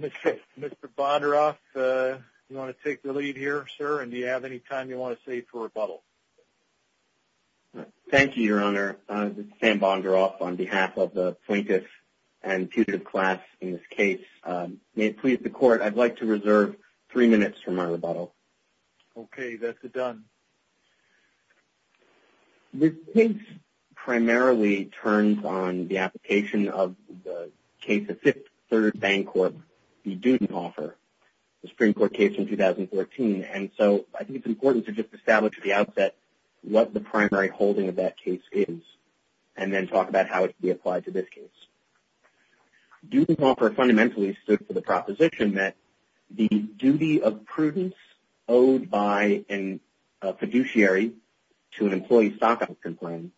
Mr. Bondaroff, you want to take the lead here, sir, and do you have any time you want to save for rebuttal? Thank you, Your Honor. This is Sam Bondaroff on behalf of the plaintiffs and tutored class in this case. May it please the court, I'd like to reserve three minutes for my rebuttal. Okay, that's a done. This case primarily turns on the application of the case of Fifth Third Bank Corp, the Dudenhofer, the Supreme Court case in 2014. And so I think it's important to just establish at the outset what the primary holding of that case is and then talk about how it can be applied to this case. Dudenhofer fundamentally stood for the proposition that the duty of prudence owed by a fiduciary owned under ERISA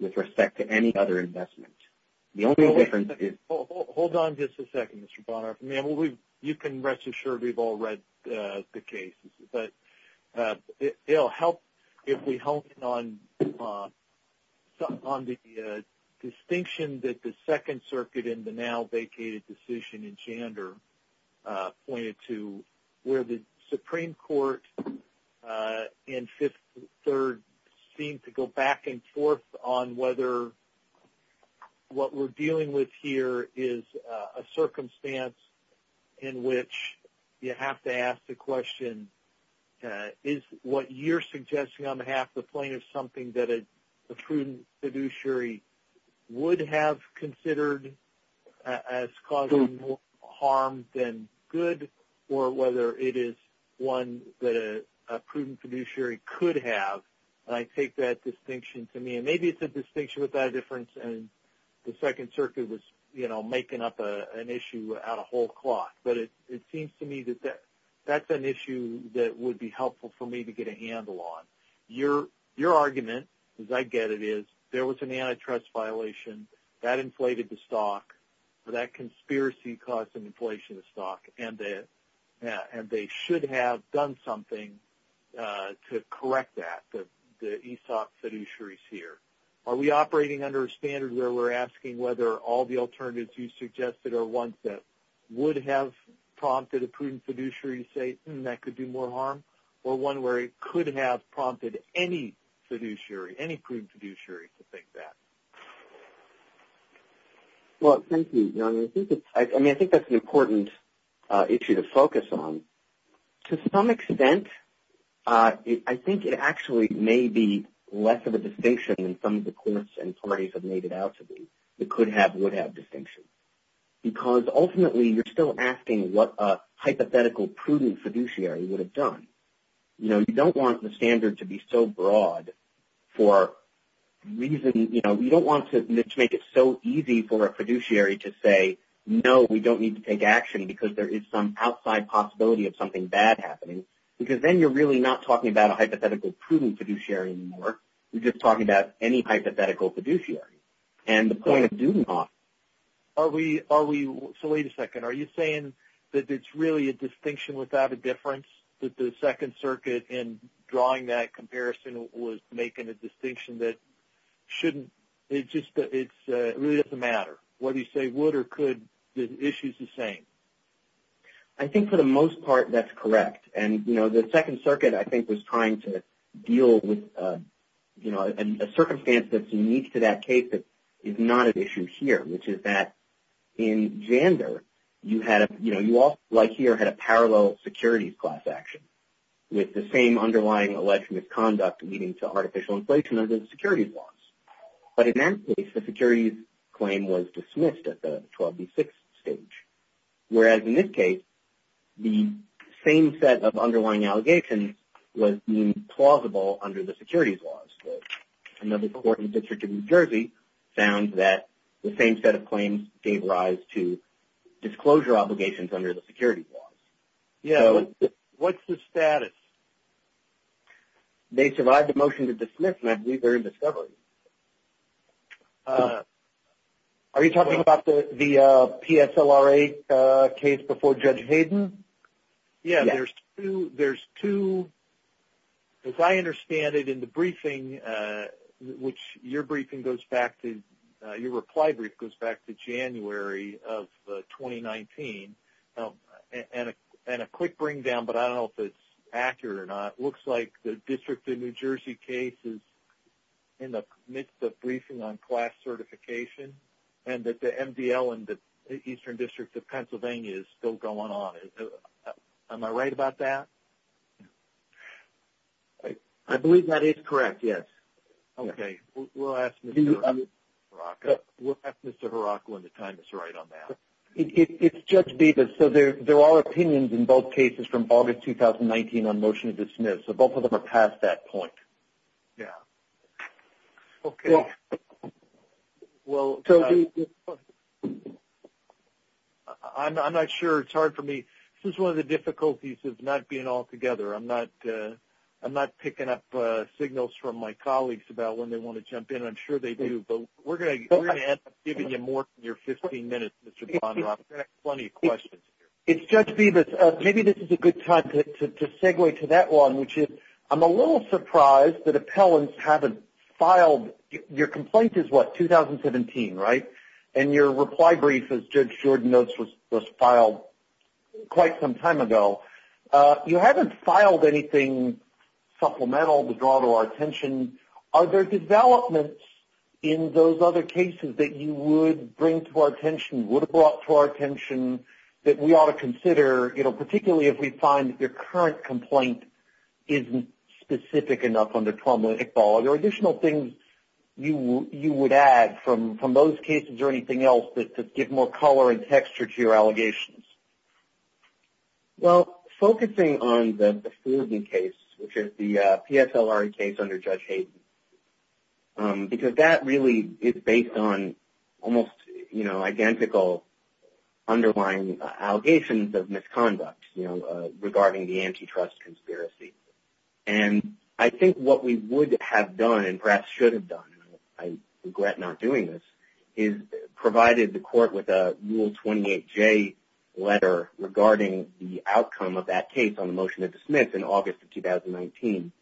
with respect to any other investment. The only difference is... Hold on just a second, Mr. Bondaroff. You can rest assured we've all read the case, but it'll help if we hone in on the distinction that the Second Circuit in the now vacated decision in Chander pointed to where the Supreme Court in Fifth Third seemed to go back and forth on whether what we're dealing with here is a circumstance in which you have to ask the question, is what you're suggesting on behalf the point of something that a prudent fiduciary would have considered as causing harm than good, or whether it is one that a prudent fiduciary could have. And I take that distinction to mean maybe it's a distinction without a difference and the Second Circuit was, you know, making up an issue out of whole cloth. But it seems to me that that's an issue that would be helpful for me to get a handle on. Your argument, as I get it, is there was an antitrust violation. That inflated the stock. So that conspiracy caused an inflation stock, and they should have done something to correct that, that the ESOC fiduciary is here. Are we operating under a standard where we're asking whether all the alternatives you suggested are ones that would have prompted a prudent fiduciary to say, hmm, that could do more harm, or one where it could have prompted any fiduciary, any prudent fiduciary to think that? Well, thank you. I mean, I think that's an important issue to focus on. To some extent, I think it actually may be less of a distinction than some of the courts and parties have made it out to be. It could have, would have distinction. Because ultimately, you're still asking what a hypothetical prudent fiduciary would have done. You know, you don't want the standard to be so broad for a reason, you know, you don't want to make it so easy for a fiduciary to say, no, we don't need to take action because there is some outside possibility of something bad happening. Because then you're really not talking about a hypothetical prudent fiduciary anymore. You're just talking about any hypothetical fiduciary. And the point of doing that... Are we, are we, so wait a second, are you saying that it's really a distinction without a difference? That the Second Circuit in drawing that comparison was making a distinction that shouldn't, it just, it really doesn't matter. What do you say, would or could, the issue's the same? I think for the most part, that's correct. And, you know, the Second Circuit, I think, was trying to deal with, you know, a circumstance that's unique to that case that is not an issue here, which is that in Jander, you had a, you know, you all, like here, had a parallel securities class action with the same underlying alleged misconduct leading to artificial inflation under the securities laws. But in that case, the securities claim was dismissed at the 12B6 stage. Whereas in this case, the same set of underlying allegations was plausible under the securities laws. Another court in the District of New Jersey found that the same set of claims gave rise to disclosure obligations under the securities laws. Yeah, what's the status? They survived the motion to dismiss, and I believe they're in discovery. Are you talking about the PSLRA case before Judge Hayden? Yeah, there's two, as I understand it, in the briefing, which your briefing goes back to, your reply brief goes back to January of 2019, and a quick bring down, but I don't know if it's accurate or not, looks like the District of New Jersey case is in the midst of briefing on class certification, and that the MDL in the Eastern District of Pennsylvania is still going on. Am I right about that? I believe that is correct, yes. Okay, we'll ask Mr. Haraka when the time is right on that. It's Judge Bevis, so there are opinions in both cases from August 2019 on motion to dismiss, so both of them are past that point. Yeah. Okay. Well, I'm not sure. It's hard for me. This is one of the difficulties of not being all together. I'm not picking up signals from my colleagues about when they want to jump in. I'm sure they do, but we're going to end up giving you more than your 15 minutes, Mr. Bonner. I've got plenty of questions here. It's Judge Bevis. Maybe this is a good time to segue to that one, which is I'm a little surprised that appellants haven't filed. Your complaint is what, 2017, right? And your reply brief, as Judge Jordan notes, was filed quite some time ago. You haven't filed anything supplemental to draw to our attention. Are there developments in those other cases that you would bring to our attention, would have brought to our attention, that we ought to consider, you know, particularly if we find that your current complaint isn't specific enough on the 12-minute ball? Are there additional things you would add from those cases or anything else to give more color and texture to your allegations? Well, focusing on the Bufordian case, which is the PSLR case under Judge Hayden, because that really is based on almost, you know, identical underlying allegations of misconduct, you know, regarding the antitrust conspiracy. And I think what we would have done and perhaps should have done, and I regret not doing this, is provided the court with a Rule 28J letter regarding the outcome of that case on the motion to dismiss in August of 2019.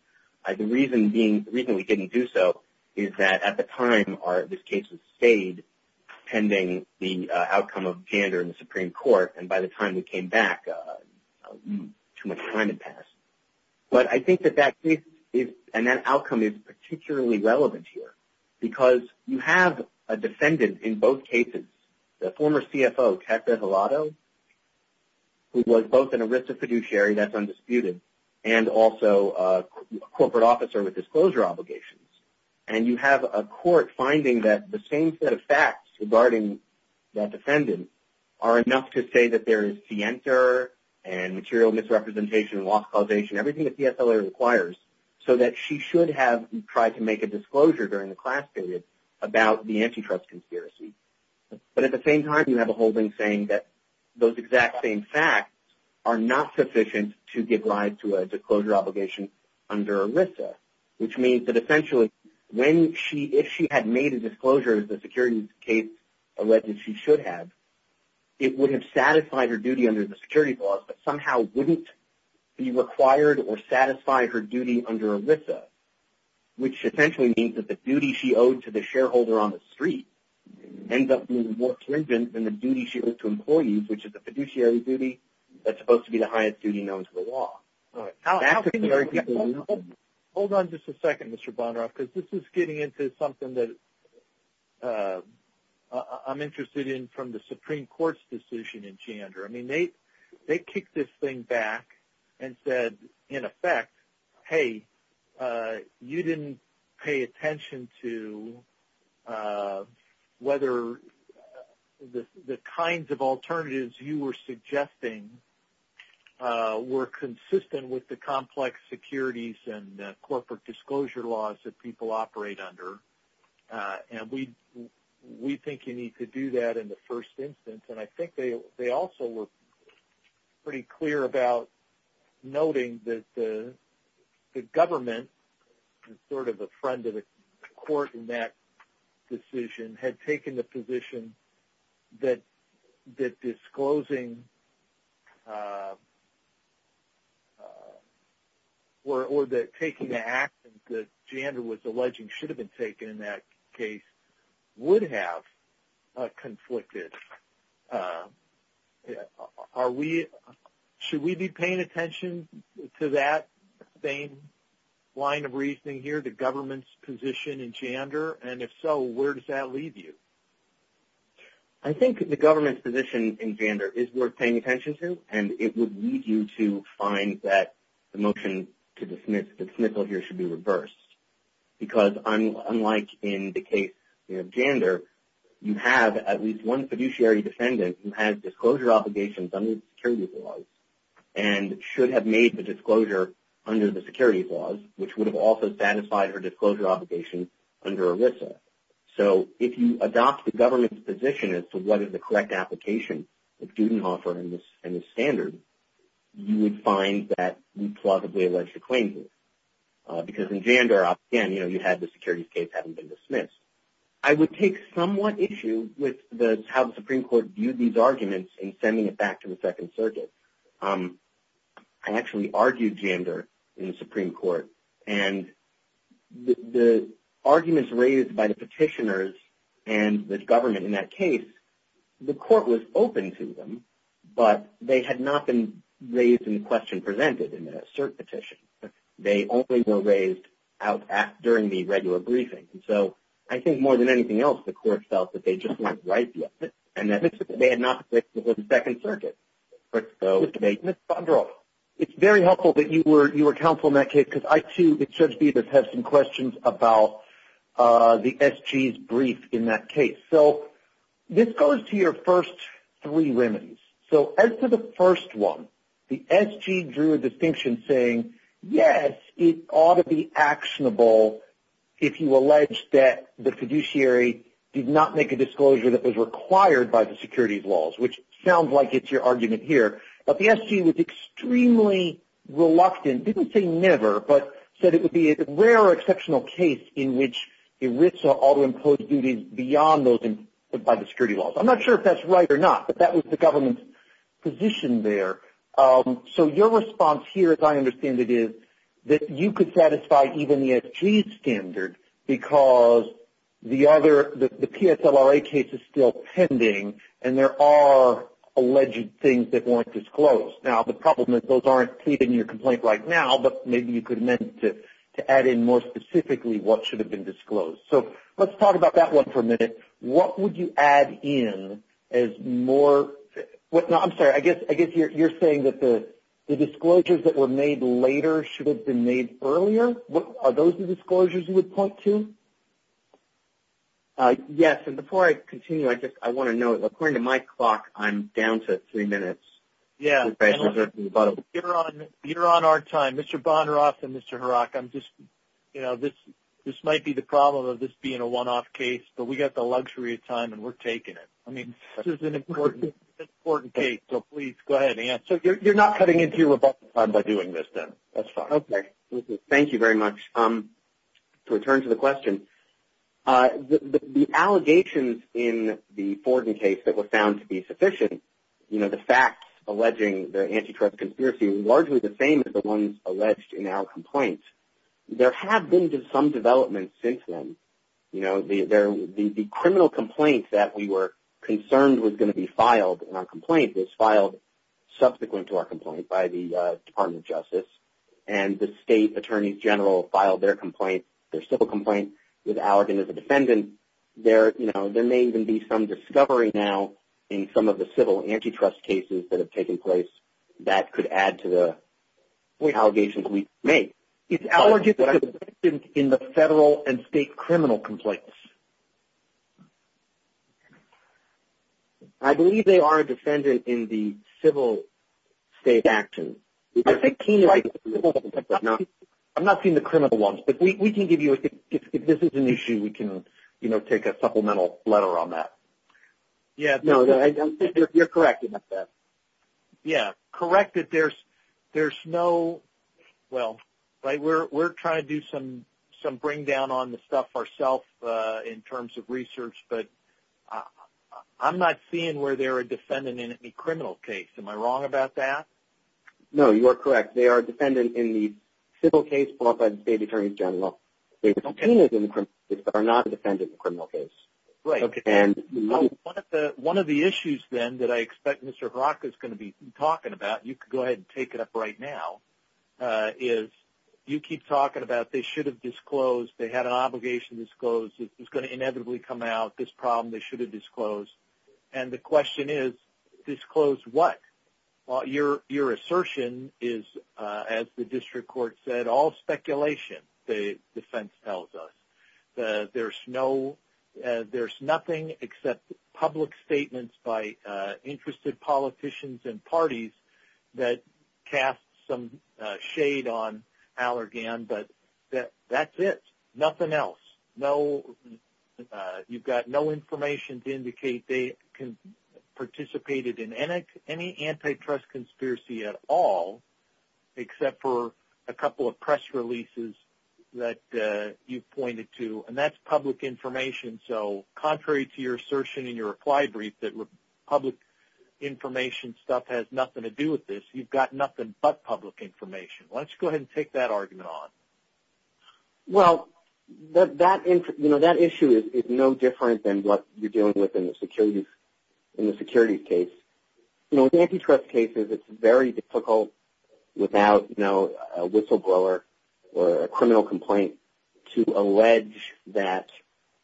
The reason we didn't do so is that at the time this case was stayed, pending the outcome of gander in the Supreme Court, and by the time we came back, too much time had passed. But I think that that case and that outcome is particularly relevant here because you have a defendant in both cases, the former CFO, Katz Bevelato, who was both an arrested fiduciary, that's undisputed, and also a corporate officer with disclosure obligations. And you have a court finding that the same set of facts regarding that defendant are enough to say that there is de-enter and material misrepresentation and loss causation, everything that the SLA requires, so that she should have tried to make a disclosure during the class period about the antitrust conspiracy. But at the same time, you have a holding saying that those exact same facts are not sufficient to give rise to a disclosure obligation under ERISA, which means that essentially if she had made a disclosure, as the securities case alleged she should have, it would have satisfied her duty under the security clause, but somehow wouldn't be required or satisfy her duty under ERISA, which essentially means that the duty she owed to the shareholder on the street that's supposed to be the highest duty known to the law. Hold on just a second, Mr. Bonneroff, because this is getting into something that I'm interested in from the Supreme Court's decision in Chandra. I mean, they kicked this thing back and said, in effect, hey, you didn't pay attention to whether the kinds of alternatives you were suggesting were consistent with the complex securities and corporate disclosure laws that people operate under, and we think you need to do that in the first instance. And I think they also were pretty clear about noting that the government, sort of a friend of the court in that decision, had taken the position that disclosing or taking the actions that Chandra was alleging should have been taken in that case would have conflicted. Are we – should we be paying attention to that same line of reasoning here, the government's position in Chandra? And if so, where does that leave you? I think the government's position in Chandra is worth paying attention to, and it would lead you to find that the motion to dismiss the dismissal here should be reversed, because unlike in the case of Chandra, you have at least one fiduciary defendant who has disclosure obligations under the securities laws and should have made the disclosure under the securities laws, which would have also satisfied her disclosure obligation under ERISA. So if you adopt the government's position as to what is the correct application of student law and the standards, you would find that we plug the alleged claim here, because in Chandra, again, you have the securities case having been dismissed. I would take somewhat issue with how the Supreme Court viewed these arguments in sending it back to the Second Circuit. I actually argued Chandra in the Supreme Court, and the arguments raised by the petitioners and the government in that case, the court was open to them, but they had not been raised in the question presented in that cert petition. They only were raised during the regular briefing. So I think more than anything else, the court felt that they just weren't right yet, and that they had not been raised before the Second Circuit. So Ms. Chandra, it's very helpful that you were countful in that case, because I, too, and Judge Bevis have some questions about the SG's brief in that case. So this goes to your first three remedies. So as to the first one, the SG drew a distinction saying, yes, it ought to be actionable if you allege that the fiduciary did not make a disclosure that was required by the securities laws, which sounds like it's your argument here, but the SG was extremely reluctant, didn't say never, but said it would be a rare or exceptional case in which ERISA ought to impose duties beyond those imposed by the security laws. I'm not sure if that's right or not, but that was the government's position there. So your response here, as I understand it, is that you could satisfy even the SG's standard because the PSLRA case is still pending and there are alleged things that weren't disclosed. Now, the problem is those aren't stated in your complaint right now, but maybe you could amend it to add in more specifically what should have been disclosed. So let's talk about that one for a minute. What would you add in as more – I'm sorry. I guess you're saying that the disclosures that were made later should have been made earlier. Are those the disclosures you would point to? Yes, and before I continue, I want to know, according to my clock, I'm down to three minutes. Yeah, you're on our time. Mr. Bonarosa and Mr. Harak, this might be the problem of this being a one-off case, but we've got the luxury of time and we're taking it. I mean, this is an important case, so please go ahead and answer. So you're not cutting into Rebecca's time by doing this, then? That's fine. Okay, thank you very much. To return to the question, the allegations in the Forden case that were found to be sufficient, the facts alleging the antitrust conspiracy were largely the same as the ones alleged in our complaint. There have been some developments since then. The criminal complaint that we were concerned was going to be filed in our complaint was filed subsequent to our complaint by the Department of Justice, and the state attorney general filed their civil complaint with Allergan as a defendant. There may even be some discovery now in some of the civil antitrust cases that have taken place that could add to the allegations we make. It's Allergan that's a defendant in the federal and state criminal complaints. I believe they are a defendant in the civil state actions. I'm not seeing the criminal ones, but we can give you, if this is an issue, we can take a supplemental letter on that. You're correct in that sense. Yeah, correct that there's no – well, we're trying to do some bring down on the stuff ourselves in terms of research, but I'm not seeing where they're a defendant in any criminal case. Am I wrong about that? No, you are correct. They are a defendant in the civil case filed by the state attorney general. They are not a defendant in the criminal case. Great. One of the issues, then, that I expect Mr. Haraka is going to be talking about, you can go ahead and take it up right now, is you keep talking about they should have disclosed, they had an obligation to disclose, it's going to inevitably come out, this problem they should have disclosed, and the question is disclose what? Your assertion is, as the district court said, all speculation the defense tells us. There's nothing except public statements by interested politicians and parties that cast some shade on Allergan, but that's it, nothing else. You've got no information to indicate they participated in any antitrust conspiracy at all, except for a couple of press releases that you've pointed to, and that's public information, so contrary to your assertion in your applied brief that public information stuff has nothing to do with this, you've got nothing but public information. Why don't you go ahead and take that argument on. Well, that issue is no different than what you're dealing with in the securities case. In antitrust cases it's very difficult without a whistleblower or a criminal complaint to allege that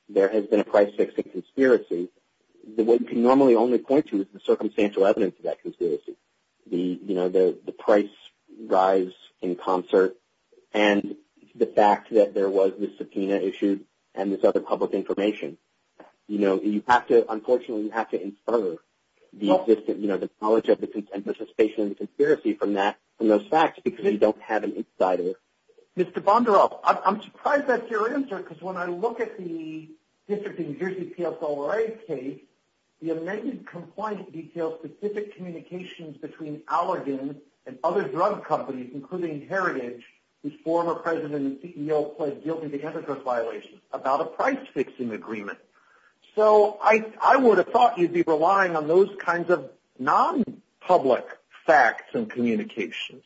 there has been a price-fixing conspiracy. What you can normally only point to is the circumstantial evidence of that conspiracy, the price rise in concert and the fact that there was this subpoena issue and this other public information. Unfortunately, you have to infer the knowledge of the participation in the conspiracy from those facts because you don't have an insider. Mr. Bondaroff, I'm surprised that's your answer because when I look at the District of New Jersey PSOA case, the amended complaint details specific communications between Allergan and other drug companies, including Heritage, whose former president and CEO pled guilty to antitrust violations, about a price-fixing agreement. So I would have thought you'd be relying on those kinds of non-public facts and communications.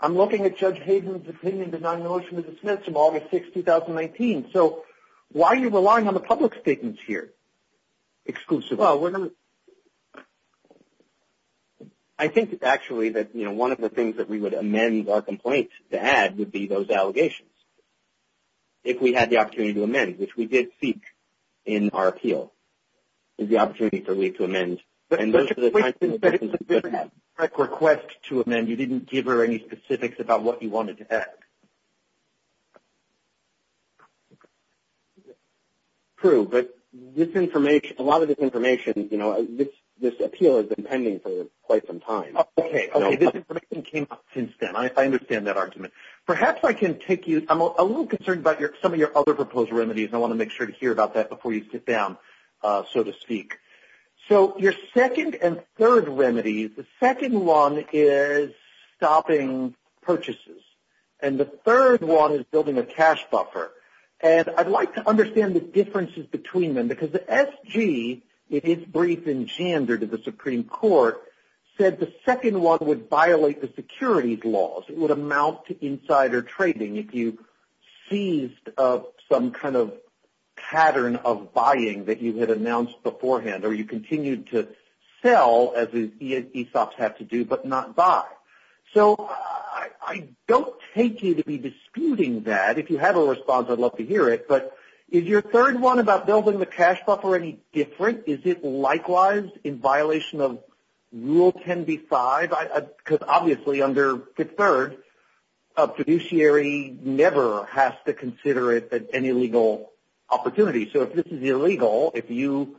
I'm looking at Judge Hayden's opinion to non-notion of the Smiths of August 6, 2019. So why are you relying on the public statements here exclusively? Well, I think, actually, that one of the things that we would amend our complaint to add would be those allegations. If we had the opportunity to amend, which we did seek in our appeal, is the opportunity for me to amend. And those are the kinds of things that you didn't have. You didn't request to amend. You didn't give her any specifics about what you wanted to ask. True, but a lot of this information, you know, this appeal has been pending for quite some time. Okay. Okay. This information came up since then. I understand that argument. Perhaps I can take you – I'm a little concerned about some of your other proposal remedies, and I want to make sure to hear about that before you sit down, so to speak. So your second and third remedy, the second one is stopping purchases. And the third one is building a cash buffer. And I'd like to understand the differences between them because the SG, it is brief in gender to the Supreme Court, said the second one would violate the securities laws. It would amount to insider trading if you seized some kind of pattern of buying that you had announced beforehand or you continued to sell, as ESOPs had to do, but not buy. So I don't take you to be disputing that. If you have a response, I'd love to hear it. But is your third one about building the cash buffer any different? Is it likewise in violation of Rule 10b-5? Because obviously under the third, a fiduciary never has to consider it an illegal opportunity. So if this is illegal, if you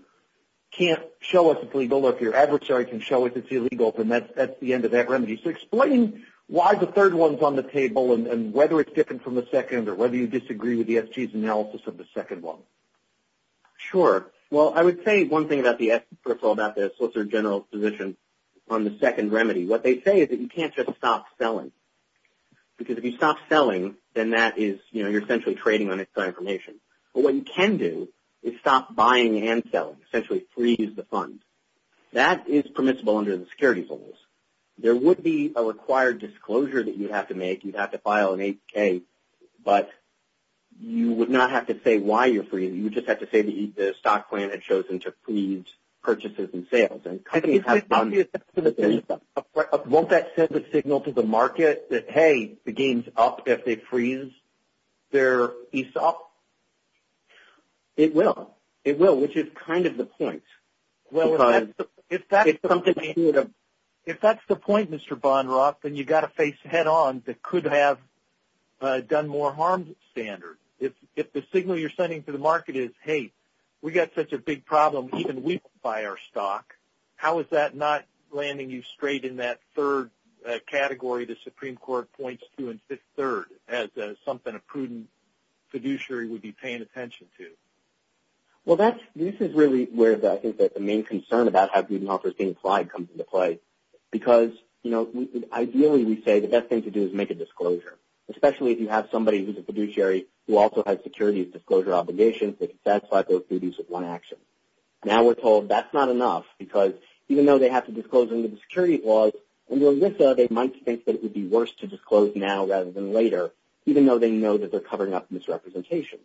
can't show us it's legal or if your adversary can show us it's illegal, then that's the end of that remedy. So explain why the third one is on the table and whether it's different from the second or whether you disagree with the SG's analysis of the second one. Sure. Well, I would say one thing first of all about the Solicitor General's position on the second remedy. What they say is that you can't just stop selling because if you stop selling, then you're essentially trading on inside information. But what you can do is stop buying and selling, essentially freeze the funds. That is permissible under the security rules. There would be a required disclosure that you'd have to make. You'd have to file an APK, but you would not have to say why you're freezing. You would just have to say the stock plan had chosen to freeze purchases and sales. Won't that send a signal to the market that, hey, the game's up if they freeze their ESOP? It will. It will, which is kind of the point. Well, if that's the point, Mr. Bonneroff, then you've got to face head-on the could-have-done-more-harm standard. If the signal you're sending to the market is, hey, we've got such a big problem, even we can buy our stock, how is that not landing you straight in that third category the Supreme Court points to in Fifth Third as something a prudent fiduciary would be paying attention to? Well, this is really where I think the main concern about how good and awful is being applied comes into play because ideally we say the best thing to do is make a disclosure, especially if you have somebody who's a fiduciary who also has security disclosure obligations that satisfy both duties with one action. Now we're told that's not enough because even though they have to disclose under the security laws, under ELISA they might think that it would be worse to disclose now rather than later, even though they know that they're covering up misrepresentation.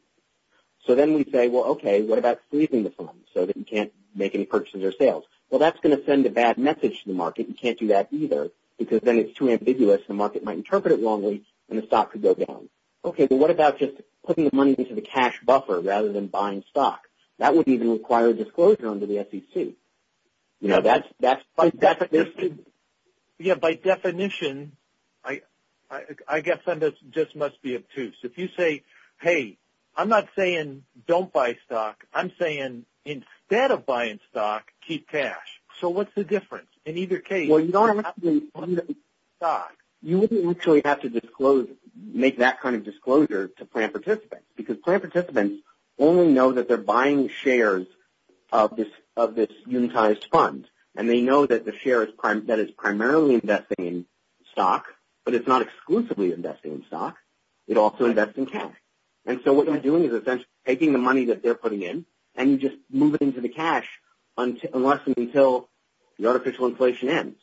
So then we say, well, okay, what about sleeping the funds so that you can't make any purchases or sales? Well, that's going to send a bad message to the market. You can't do that either because then it's too ambiguous. The market might interpret it wrongly and the stock could go down. Okay, but what about just putting the money into the cash buffer rather than buying stock? That would even require a disclosure under the SEC. You know, that's by definition. Yeah, by definition, I guess that just must be obtuse. If you say, hey, I'm not saying don't buy stock. I'm saying instead of buying stock, keep cash. So what's the difference? In either case, you wouldn't actually have to make that kind of disclosure to plan participants because plan participants only know that they're buying shares of this unitized fund, and they know that the share is primarily investing in stock, but it's not exclusively investing in stock. It also invests in cash. And so what you're doing is essentially taking the money that they're putting in and you just move it into the cash unless and until the artificial inflation ends.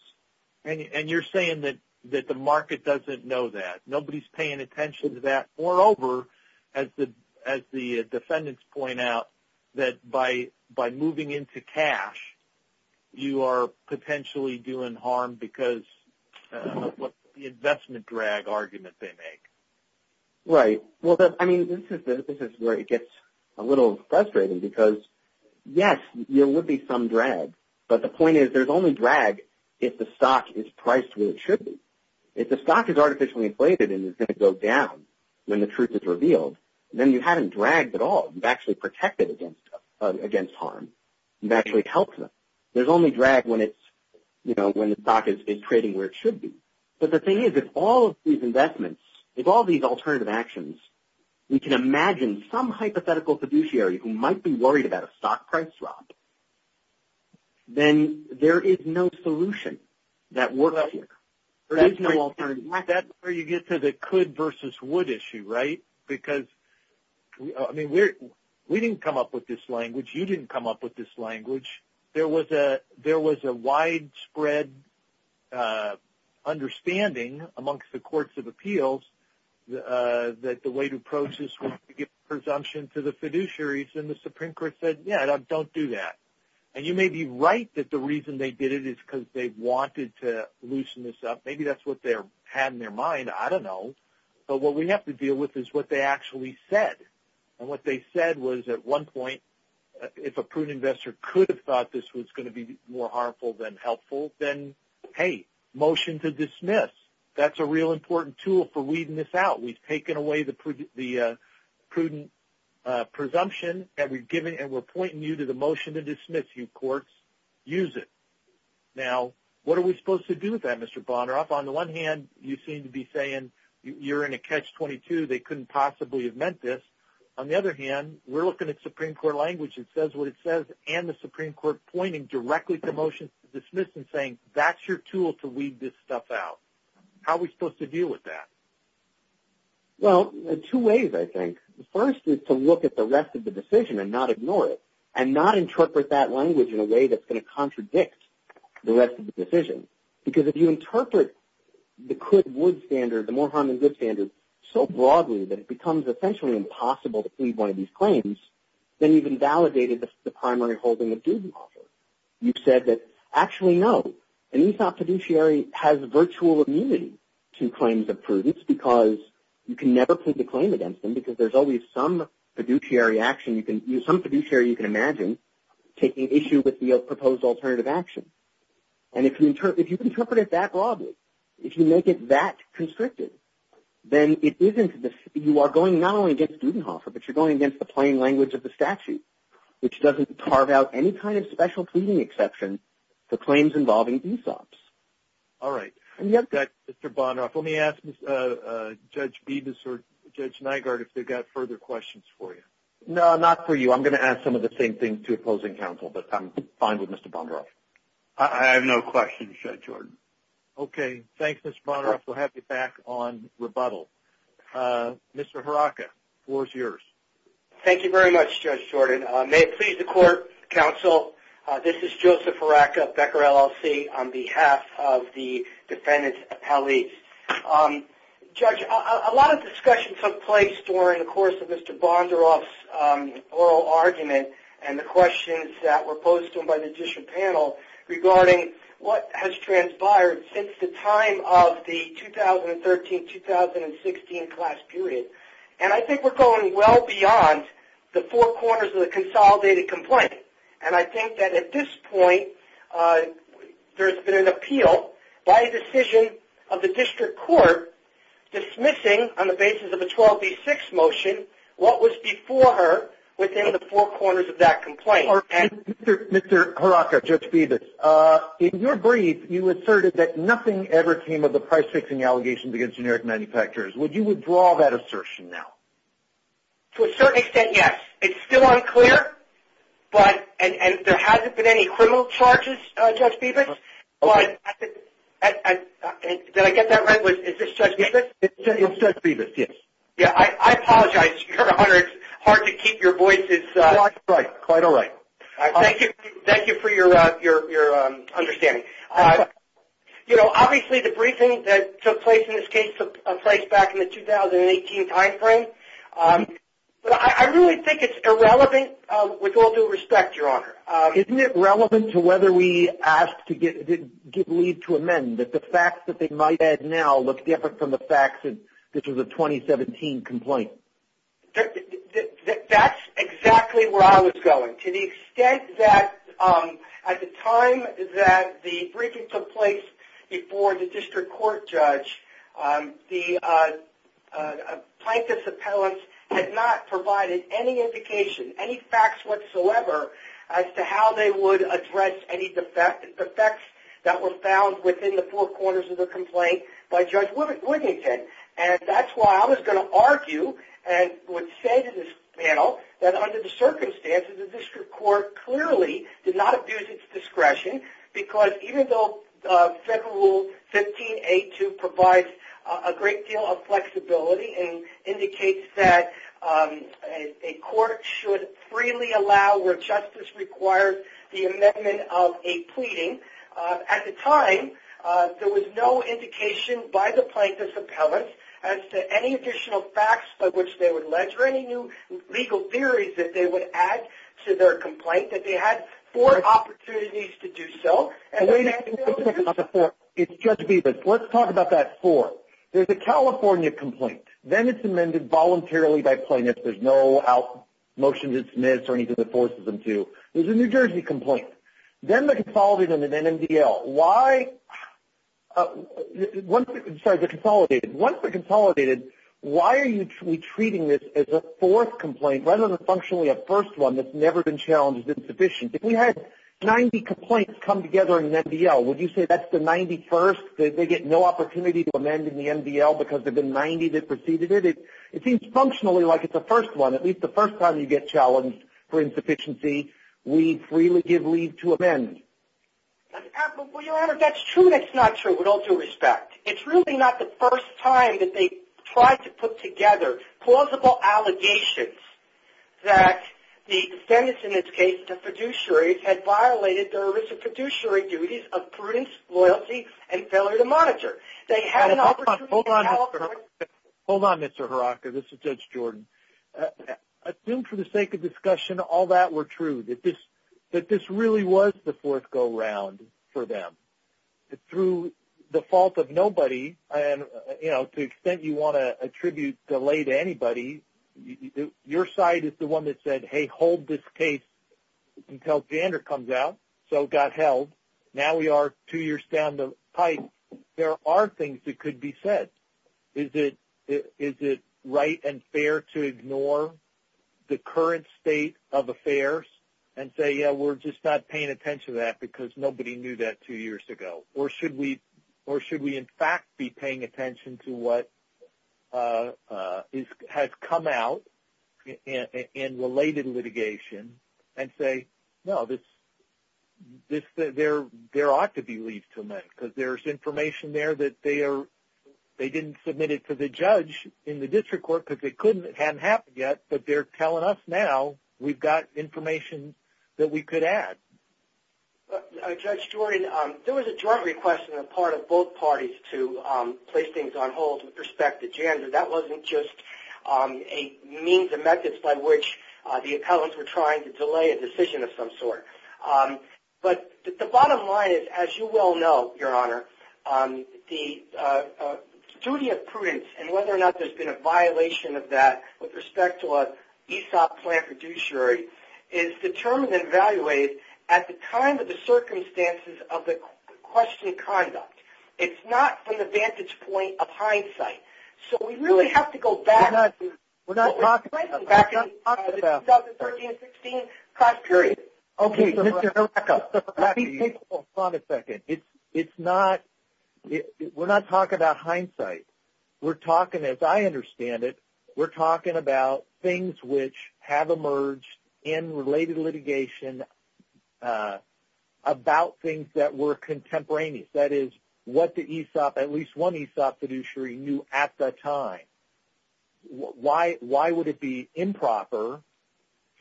And you're saying that the market doesn't know that. Nobody's paying attention to that. Moreover, as the defendants point out, that by moving into cash, you are potentially doing harm because of the investment drag argument they make. Right. Well, I mean, this is where it gets a little frustrating because, yes, there would be some drag, but the point is there's only drag if the stock is priced where it should be. If the stock is artificially inflated and is going to go down when the truth is revealed, then you haven't dragged at all. You've actually protected against harm. You've actually helped them. There's only drag when the stock is trading where it should be. But the thing is, if all of these investments, if all these alternative actions, we can imagine some hypothetical fiduciary who might be worried about a stock price drop, then there is no solution that works here. There is no alternative. That's where you get to the could versus would issue, right? Because, I mean, we didn't come up with this language. You didn't come up with this language. There was a widespread understanding amongst the courts of appeals that the way to approach this was to give presumption to the fiduciaries, and the Supreme Court said, yeah, don't do that. And you may be right that the reason they did it is because they wanted to loosen this up. Maybe that's what they had in their mind. I don't know. But what we have to deal with is what they actually said. And what they said was, at one point, if a prudent investor could have thought this was going to be more harmful than helpful, then, hey, motion to dismiss. That's a real important tool for weeding this out. We've taken away the prudent presumption, and we're pointing you to the motion to dismiss, you courts. Use it. Now, what are we supposed to do with that, Mr. Bonner? On the one hand, you seem to be saying you're in a catch-22. They couldn't possibly have meant this. On the other hand, we're looking at Supreme Court language. It says what it says, and the Supreme Court pointing directly to motion to dismiss and saying that's your tool to weed this stuff out. How are we supposed to deal with that? Well, two ways, I think. The first is to look at the rest of the decision and not ignore it and not interpret that language in a way that's going to contradict the rest of the decision. Because if you interpret the could-would standard, the more harm than good standard, so broadly that it becomes essentially impossible to plead one of these claims, then you've invalidated the primary holding of duty offer. You've said that, actually, no. An ESOP fiduciary has virtual immunity to claims of prudence because you can never plead the claim against them because there's always some fiduciary action, some fiduciary you can imagine, taking issue with the proposed alternative action. And if you interpret it that broadly, if you make it that constrictive, then you are going not only against duty offer, but you're going against the plain language of the statute, which doesn't carve out any kind of special pleading exception for claims involving ESOPs. All right. Mr. Bondrock, let me ask Judge Betus or Judge Nygaard if they've got further questions for you. No, not for you. So I'm going to ask some of the same things to opposing counsel, but I'm fine with Mr. Bondrock. I have no questions, Judge Jordan. Okay. Thanks, Mr. Bondrock. We'll have you back on rebuttal. Mr. Haraka, the floor is yours. Thank you very much, Judge Jordan. May it please the court, counsel, this is Joseph Haraka, Becker LLC, on behalf of the defendants' appellees. Judge, a lot of discussion took place during the course of Mr. Bondrock's oral argument and the questions that were posed to him by the district panel regarding what has transpired since the time of the 2013-2016 class period. And I think we're going well beyond the four corners of the consolidated complaint. And I think that at this point there's been an appeal by a decision of the district court dismissing, on the basis of the 12B6 motion, what was before her within the four corners of that complaint. Mr. Haraka, Judge Betus, in your brief you asserted that nothing ever came of the price-fixing allegations against generic manufacturers. Would you withdraw that assertion now? To a certain extent, yes. It's still unclear, and there hasn't been any criminal charges, Judge Betus. Did I get that right? Is this Judge Betus? It's Judge Betus, yes. Yeah, I apologize. It's hard to keep your voices. Quite all right. Thank you for your understanding. You know, obviously the briefing that took place in this case took place back in the 2018 timeframe. But I really think it's irrelevant, with all due respect, Your Honor. Isn't it relevant to whether we asked to give leave to amend, that the facts that they might add now look different from the facts that this was a 2017 complaint? That's exactly where I was going. To the extent that at the time that the briefing took place before the district court judge, the plaintiff's appellant had not provided any indication, any facts whatsoever, as to how they would address any defects that were found within the four corners of the complaint by Judge Woodington. And that's why I was going to argue and would say to this panel that under the circumstances, the district court clearly did not abuse its discretion, because even though Federal Rule 15.8.2 provides a great deal of flexibility and indicates that a court should freely allow where justice requires the amendment of a pleading, at the time, there was no indication by the plaintiff's appellant as to any additional facts by which they were led or any new legal theories that they would add to their complaint that they had four opportunities to do so. Judge Bevis, let's talk about that four. There's a California complaint. Then it's amended voluntarily by plaintiffs. There's no motion to dismiss or anything that forces them to. There's a New Jersey complaint. Then they're consolidated in an NMDL. Once they're consolidated, why are we treating this as a fourth complaint rather than functionally a first one that's never been challenged as insufficient? If we had 90 complaints come together in an NMDL, would you say that's the 91st? They get no opportunity to amend in the NMDL because there have been 90 that preceded it? It seems functionally like it's a first one. At least the first time you get challenged for insufficiency, we freely give leave to amend. Well, Your Honor, that's true. That's not true with all due respect. It's really not the first time that they tried to put together plausible allegations that the defendants, in this case the fiduciaries, had violated their fiduciary duties of prudence, loyalty, and failure to monitor. Hold on, Mr. Horakka. This is Judge Jordan. Assume for the sake of discussion all that were true, that this really was the fourth go-round for them. Through the fault of nobody, to the extent you want to attribute delay to anybody, your side is the one that said, hey, hold this case until Jander comes out, so got held. Now we are two years down the pipe. There are things that could be said. Is it right and fair to ignore the current state of affairs and say, yeah, we're just not paying attention to that because nobody knew that two years ago? Or should we in fact be paying attention to what has come out in related litigation and say, no, there ought to be leave to amend because there's information there that they didn't submit it to the judge in the Judge Jordan, there was a joint request on the part of both parties to place things on hold with respect to Jander. That wasn't just a means of methods by which the accountants were trying to delay a decision of some sort. But the bottom line is, as you well know, Your Honor, the duty of prudence and whether or not there's been a violation of that with respect to an ESOP plan fiduciary is determined and evaluated at the time of the circumstances of the question of conduct. It's not from the vantage point of hindsight. So we really have to go back to the 2013-16 class period. Okay, so Mr. Noretka, be faithful for a second. It's not we're not talking about hindsight. We're talking, as I understand it, we're talking about things which have emerged in related litigation about things that were contemporaneous. That is, what the ESOP, at least one ESOP fiduciary knew at that time. Why would it be improper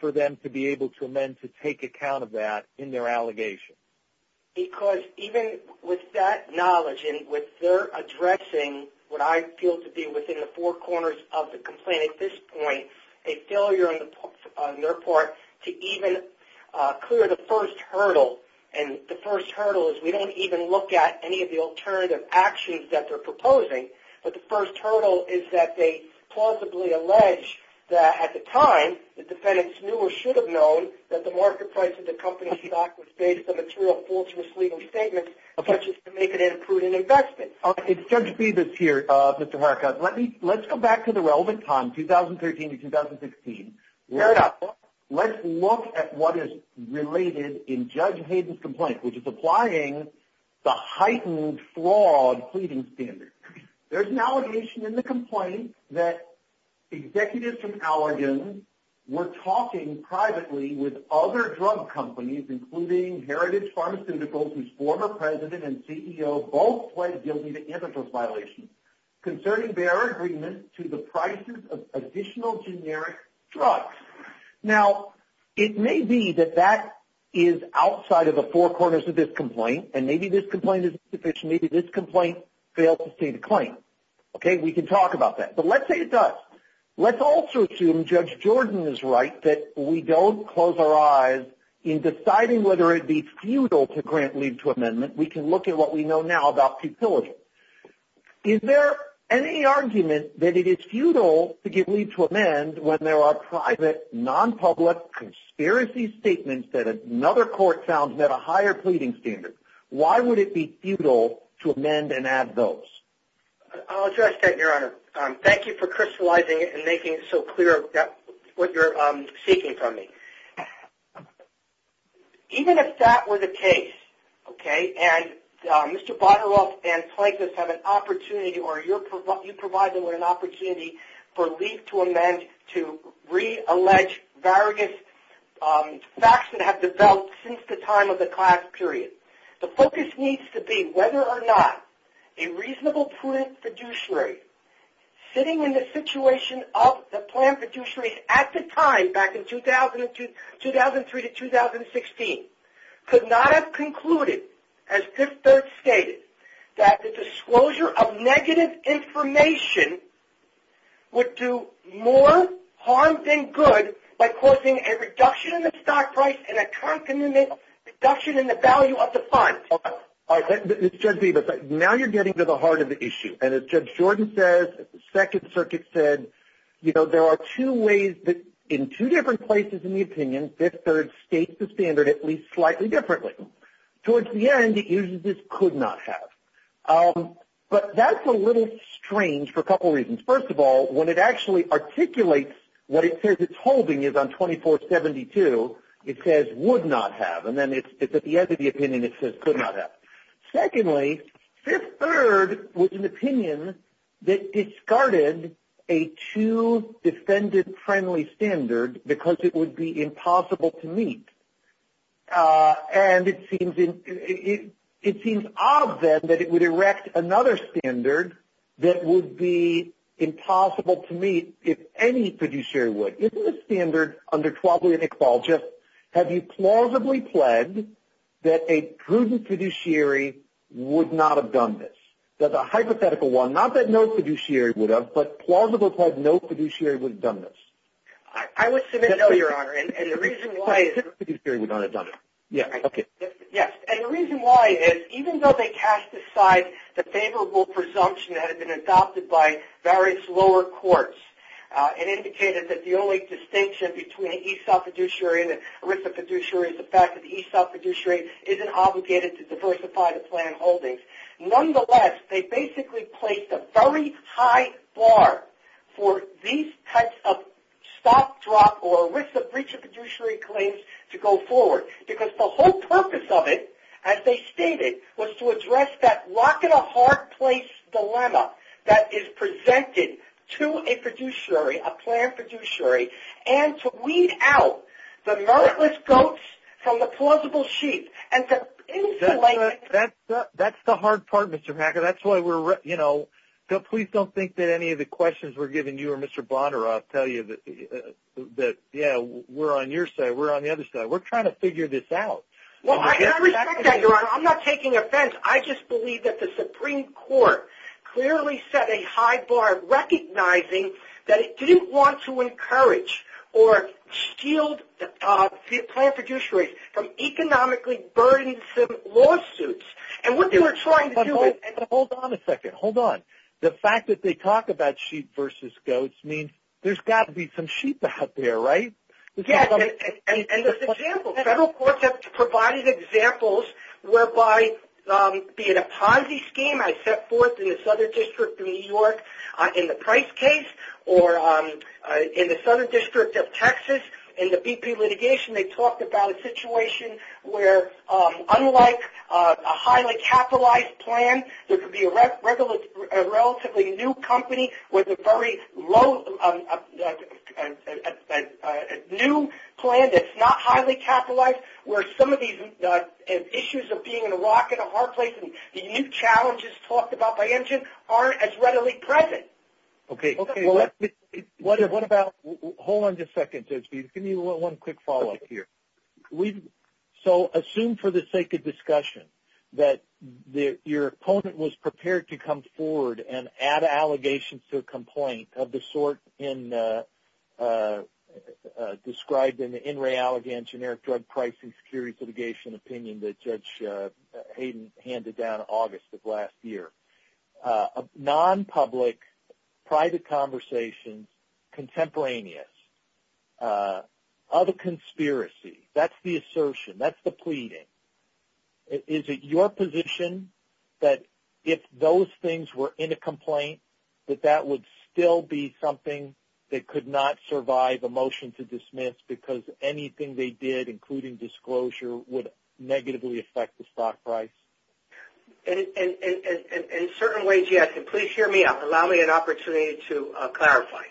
for them to be able to amend to take account of that in their allegation? Because even with that knowledge and with their addressing what I feel to be within the four corners of the complaint at this point, a failure on their part to even clear the first hurdle, and the first hurdle is we don't even look at any of the alternative actions that they're proposing, but the first hurdle is that they plausibly allege that at the time the defendants knew or should have known that the market price of the company stock was based on material faultless legal statements, such as to make it an imprudent investment. It's Judge Bevis here, Mr. Haricot. Let's go back to the relevant time, 2013-2016. Fair enough. Let's look at what is related in Judge Hayden's complaint, which is applying the heightened flawed pleading standard. There's an allegation in the complaint that executives from Allergan were talking privately with other drug companies, including Heritage Pharmaceuticals, whose former president and CEO both pled guilty to antitrust violations, concerning their agreement to the prices of additional generic drugs. Now, it may be that that is outside of the four corners of this complaint, and maybe this complaint is insufficient. Maybe this complaint failed to state a claim. Okay? We can talk about that. But let's say it does. Let's also assume Judge Jordan is right that we don't close our eyes in deciding whether it be futile to grant leave to amendment. We can look at what we know now about futility. Is there any argument that it is futile to give leave to amend when there are private, nonpublic, conspiracy statements that another court found met a higher pleading standard? Why would it be futile to amend and add those? I'll address that, Your Honor. Thank you for crystallizing it and making it so clear what you're seeking from me. Even if that were the case, okay, and Mr. Butteroff and Plankus have an opportunity or you provide them with an opportunity for leave to amend to reallege various facts that have developed since the time of the class period. The focus needs to be whether or not a reasonable prudent fiduciary sitting in the situation of the planned fiduciary at the time, back in 2003 to 2016, could not have concluded, as this judge stated, that the disclosure of negative information would do more harm than good by causing a reduction in the stock price and a concomitant reduction in the value of the fund. All right. Now you're getting to the heart of the issue. And as Judge Jordan says, the Second Circuit said, you know, there are two ways that in two different places in the opinion, Fifth Third states the standard at least slightly differently. Towards the end, it uses could not have. But that's a little strange for a couple reasons. First of all, when it actually articulates what it says it's holding is on 2472, it says would not have. And then it's at the end of the opinion it says could not have. Secondly, Fifth Third was an opinion that discarded a too defendant-friendly standard because it would be impossible to meet. And it seems odd, then, that it would erect another standard that would be impossible to meet if any fiduciary would. So is this standard under 12-year negligence? Have you plausibly pled that a prudent fiduciary would not have done this? That's a hypothetical one. Not that no fiduciary would have, but plausible to have no fiduciary would have done this. I would submit no, Your Honor. And the reason why is even though they cast aside the favorable presumption that had been adopted by various lower courts and indicated that the only distinction between an ESOP fiduciary and an ERISA fiduciary is the fact that the ESOP fiduciary isn't obligated to diversify the plan holdings. Nonetheless, they basically placed a very high bar for these types of stop, drop, or ERISA breach of fiduciary claims to go forward because the whole purpose of it, as they stated, was to address that rock-and-a-hard-place dilemma that is presented to a fiduciary, a planned fiduciary, and to weed out the meritless goats from the plausible sheep. That's the hard part, Mr. Packer. Please don't think that any of the questions we're giving you or Mr. Bonner, I'll tell you that we're on your side, we're on the other side. We're trying to figure this out. I respect that, Your Honor. I'm not taking offense. I just believe that the Supreme Court clearly set a high bar recognizing that it didn't want to encourage or shield the planned fiduciary from economically burdensome lawsuits. Hold on a second. Hold on. The fact that they talk about sheep versus goats means there's got to be some sheep out there, right? Yes. And there's examples. Federal courts have provided examples whereby, be it a Ponzi scheme I set forth in the Southern District of New York in the Price case or in the Southern District of Texas in the BP litigation, they talked about a situation where, unlike a highly capitalized plan, there could be a relatively new company with a very new plan that's not highly capitalized, where some of these issues of being in a rock and a hard place and the new challenges talked about by Injun aren't as readily present. Okay. What about – hold on just a second. Give me one quick follow-up here. So assume for the sake of discussion that your opponent was prepared to come forward and add allegations to a complaint of the sort described in the In Re Allegance, generic drug pricing security litigation opinion that Judge Hayden handed down in August of last year. Non-public, private conversation, contemporaneous. Other conspiracy. That's the assertion. That's the pleading. Is it your position that if those things were in a complaint, that that would still be something that could not survive a motion to dismiss because anything they did, including disclosure, would negatively affect the stock price? In certain ways, yes. And please hear me out. Allow me an opportunity to clarify.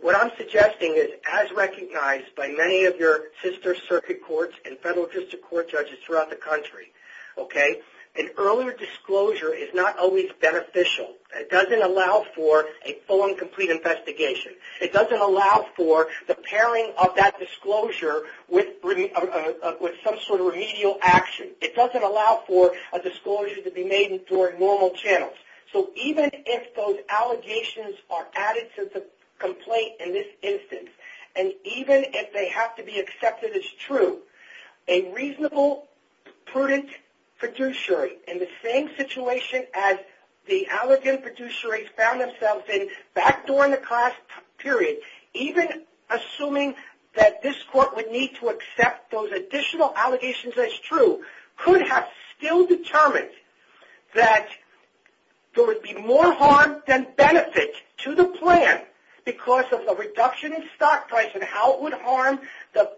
What I'm suggesting is, as recognized by many of your sister circuit courts and federal district court judges throughout the country, okay, an earlier disclosure is not always beneficial. It doesn't allow for a full and complete investigation. It doesn't allow for the pairing of that disclosure with some sort of remedial action. It doesn't allow for a disclosure to be made in normal channels. So even if those allegations are added to the complaint in this instance, and even if they have to be accepted as true, a reasonable, prudent producer, in the same situation as the alleged producer found themselves in back during the class period, even assuming that this court would need to accept those additional allegations as true, could have still determined that there would be more harm than benefit to the plan because of the reduction in stock price and how it would harm the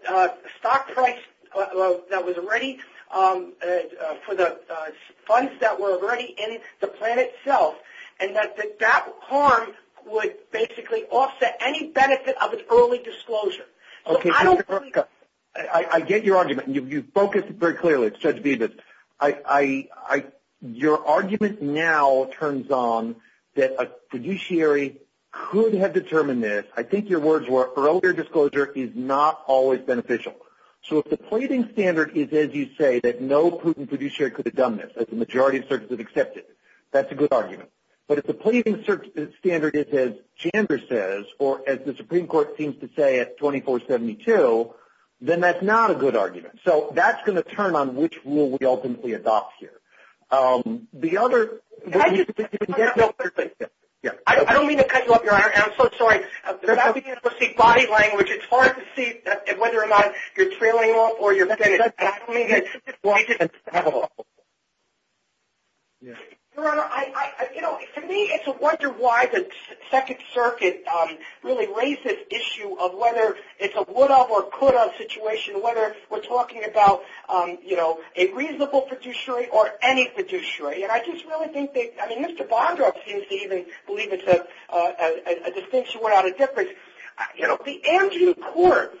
stock price for the funds that were already in the plan itself, and that that harm would basically offset any benefit of its early disclosure. I get your argument. You've focused very clearly, Judge Divas. Your argument now turns on that a fiduciary could have determined this. I think your words were earlier disclosure is not always beneficial. So if the plating standard is, as you say, that no prudent fiduciary could have done this, that the majority of searches have accepted, that's a good argument. But if the plating standard is, as Chandra says, or as the Supreme Court seems to say at 2472, then that's not a good argument. So that's going to turn on which rule we ultimately adopt here. The other – I don't mean to cut you off, Your Honor, and I'm so sorry. Without being able to speak body language, it's hard to see whether or not you're trailing off or you're saying it's not happening. Your Honor, to me it's a wonder why the Second Circuit really raised this issue of whether it's a would-of or could-of situation, whether we're talking about a reasonable fiduciary or any fiduciary. And I just really think they – I mean, Mr. Bondrock seems to even believe it's a distinction without a difference. The Amgen Court,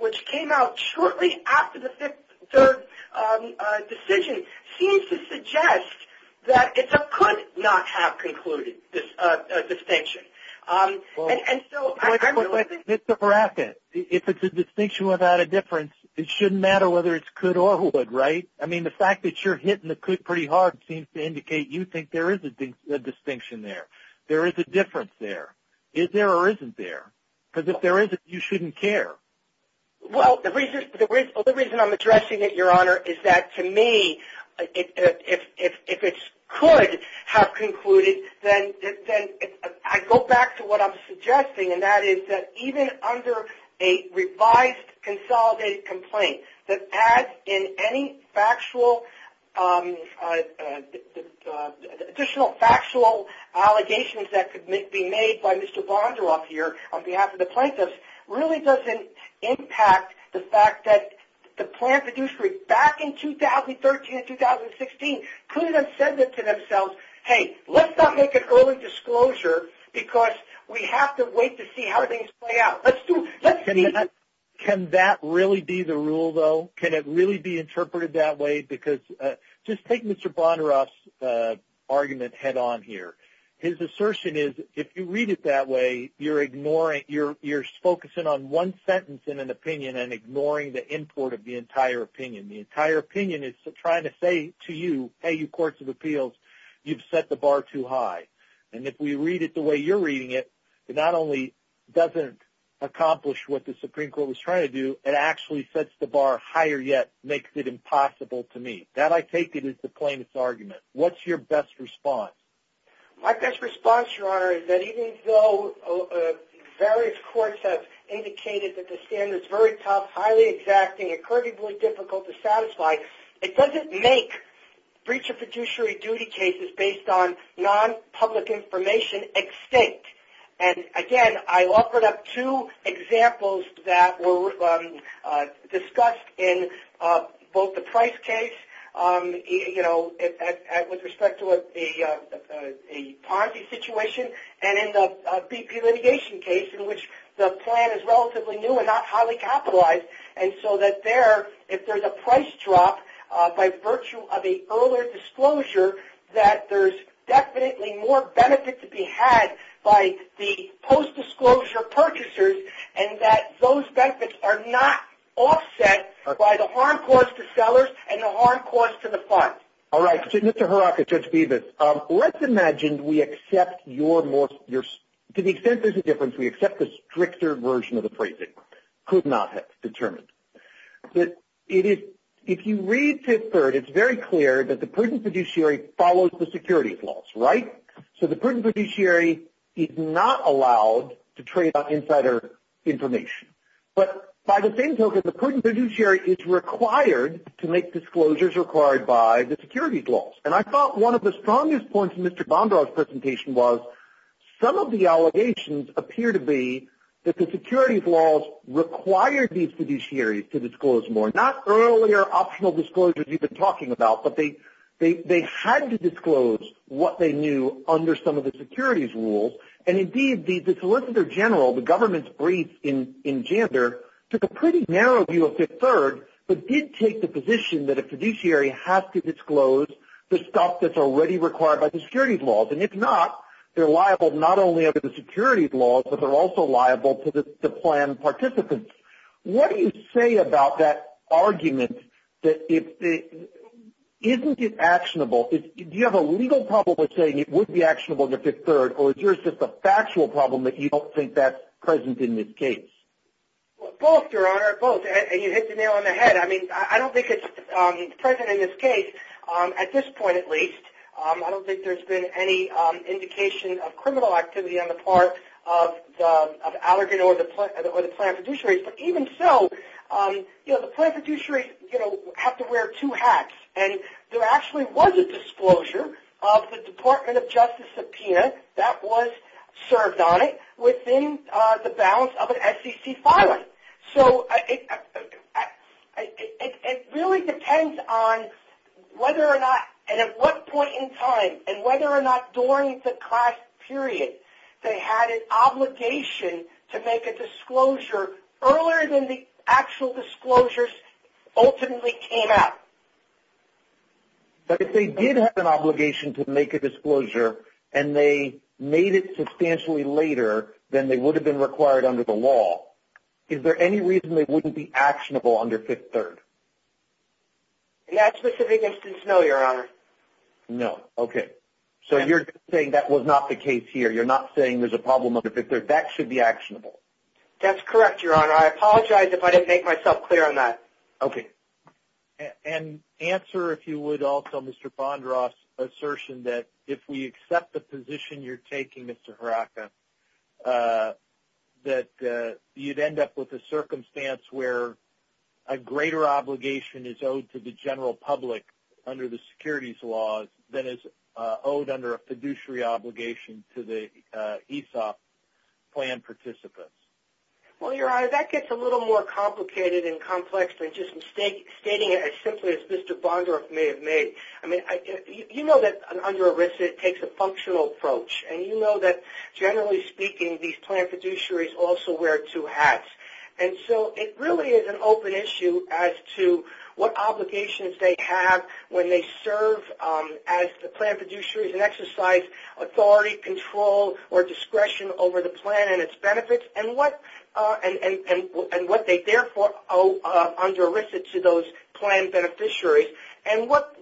which came out shortly after the Fifth Circuit decision, seems to suggest that it's a could-not-have-concluded distinction. And so – It's a bracket. If it's a distinction without a difference, it shouldn't matter whether it's could-or-would, right? I mean, the fact that you're hitting the could pretty hard seems to indicate you think there is a distinction there. There is a difference there. Is there or isn't there? Because if there isn't, you shouldn't care. Well, the reason I'm addressing it, Your Honor, is that to me if it's could-have-concluded, then I go back to what I'm suggesting, and that is that even under a revised consolidated complaint, that adds in any factual – additional factual allegations that could be made by Mr. Bondrock here on behalf of the plaintiffs really doesn't impact the fact that the plant fiduciary back in 2013 and 2016 could have said to themselves, hey, let's not make an early disclosure because we have to wait to see how things play out. Let's do – Can that really be the rule, though? Can it really be interpreted that way? Because just take Mr. Bondrock's argument head on here. His assertion is if you read it that way, you're ignoring – you're focusing on one sentence in an opinion and ignoring the import of the entire opinion. The entire opinion is trying to say to you, hey, you courts of appeals, you've set the bar too high. And if we read it the way you're reading it, it not only doesn't accomplish what the Supreme Court was trying to do, it actually sets the bar higher yet makes it impossible to meet. That I take it is the plaintiff's argument. What's your best response? My best response, Your Honor, is that even though various courts have indicated that the standard is very tough, highly exacting, and currently difficult to satisfy, it doesn't make breach of fiduciary duty cases based on non-public information extinct. And, again, I've offered up two examples that were discussed in both the Price case, you know, with respect to a Ponzi situation, and in the BP litigation case, in which the plan is relatively new and not highly capitalized. And so that there, if there's a price drop by virtue of an earlier disclosure, that there's definitely more benefit to be had by the post-disclosure purchasers, and that those benefits are not offset by the harm caused to sellers and the harm caused to the funds. All right. Mr. Haraka, Judge Bevis, let's imagine we accept your most – to the extent there's a difference, we accept the stricter version of the phrasing, could not have determined. But if you read tip third, it's very clear that the prudent fiduciary follows the securities laws, right? So the prudent fiduciary is not allowed to trade insider information. But by the same token, the prudent fiduciary is required to make disclosures required by the securities laws. And I thought one of the strongest points in Mr. Bondar's presentation was some of the allegations appear to be that the securities laws require these fiduciaries to disclose more. Not earlier optional disclosures you've been talking about, but they had to disclose what they knew under some of the securities rules. And indeed, the solicitor general, the government's brief in Jander, took a pretty narrow view of tip third, but did take the position that a fiduciary has to disclose the stuff that's already required by the securities laws. And if not, they're liable not only under the securities laws, but they're also liable to the plan participants. What do you say about that argument that isn't it actionable? Do you have a legal problem with saying it would be actionable to tip third, or is yours just a factual problem that you don't think that's present in this case? Well, both, Your Honor, both. And you hit the nail on the head. I mean, I don't think it's present in this case, at this point at least. I don't think there's been any indication of criminal activity on the part of the allegate or the plan fiduciaries. But even so, the plan fiduciaries have to wear two hats. And there actually was a disclosure of the Department of Justice subpoena that was served on it within the bounds of an SEC filing. So it really depends on whether or not and at what point in time and whether or not during the class period they had an obligation to make a disclosure earlier than the actual disclosures ultimately came out. But if they did have an obligation to make a disclosure and they made it substantially later than they would have been required under the law, is there any reason they wouldn't be actionable under Fifth Third? In that specific instance, no, Your Honor. No. Okay. So you're saying that was not the case here. You're not saying there's a problem under Fifth Third. That should be actionable. That's correct, Your Honor. I apologize if I didn't make myself clear on that. Okay. And answer, if you would, also Mr. Fondros' assertion that if we accept the position you're taking, Mr. Hiraka, that you'd end up with a circumstance where a greater obligation is owed to the general public under the securities laws than is owed under a fiduciary obligation to the ESOP plan participants. Well, Your Honor, that gets a little more complicated and complex than just stating it as simply as Mr. Vondroff may have made. I mean, you know that under ERISA it takes a functional approach, and you know that generally speaking these plan fiduciaries also wear two hats. And so it really is an open issue as to what obligations they have when they serve as the plan fiduciaries and exercise authority, control, or discretion over the plan and its benefits and what they therefore owe under ERISA to those plan beneficiaries and what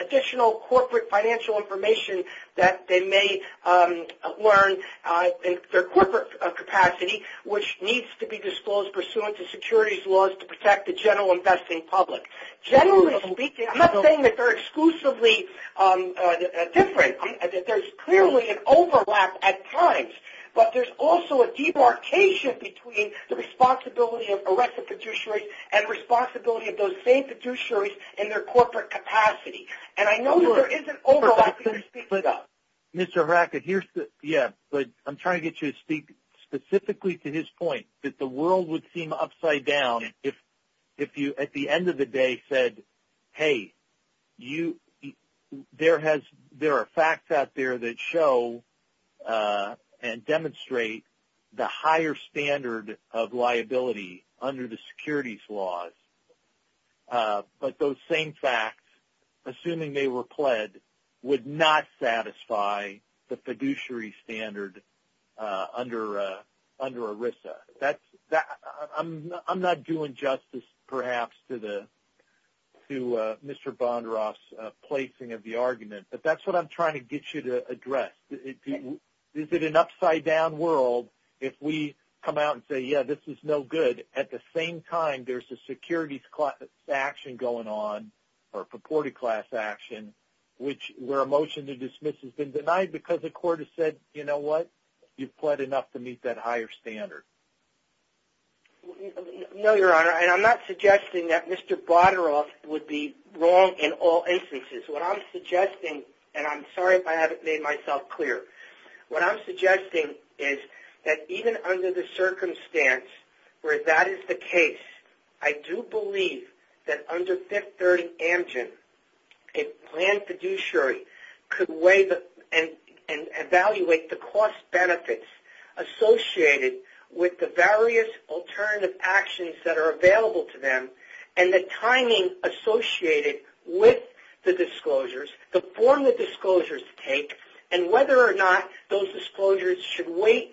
additional corporate financial information that they may learn in their corporate capacity, which needs to be disclosed pursuant to securities laws to protect the general investing public. Generally speaking, I'm not saying that they're exclusively different. There's clearly an overlap at times, but there's also a debarkation between the responsibility of ERISA fiduciaries and responsibility of those same fiduciaries in their corporate capacity. And I know there is an overlap. But, Mr. Hiraka, I'm trying to get you to speak specifically to his point that the world would seem upside down if you, at the end of the day, said, hey, there are facts out there that show and demonstrate the higher standard of liability under the securities laws. But those same facts, assuming they were pled, would not satisfy the fiduciary standard under ERISA. I'm not doing justice, perhaps, to Mr. Bondaroff's placing of the argument, but that's what I'm trying to get you to address. Is it an upside down world if we come out and say, yeah, this is no good, and at the same time there's a securities class action going on or purported class action where a motion to dismiss has been denied because the court has said, you know what? You've pled enough to meet that higher standard. No, Your Honor, and I'm not suggesting that Mr. Bondaroff would be wrong in all instances. What I'm suggesting, and I'm sorry if I haven't made myself clear, what I'm suggesting is that even under the circumstance where that is the case, I do believe that under Fifth 30 Amgen, a planned fiduciary could weigh and evaluate the cost benefits associated with the various alternative actions that are available to them and the timing associated with the disclosures, the form the disclosures take, and whether or not those disclosures should wait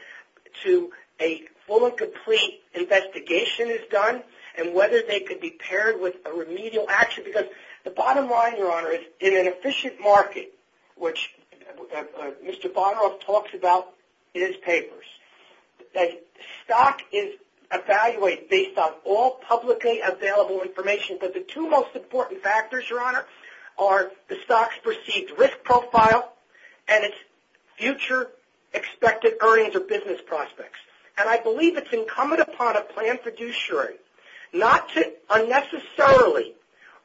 until a full and complete investigation is done and whether they could be paired with a remedial action. Because the bottom line, Your Honor, is in an efficient market, which Mr. Bondaroff talks about in his papers, that stock is evaluated based on all publicly available information. But the two most important factors, Your Honor, are the stock's perceived risk profile and its future expected earnings or business prospects. And I believe it's incumbent upon a planned fiduciary not to unnecessarily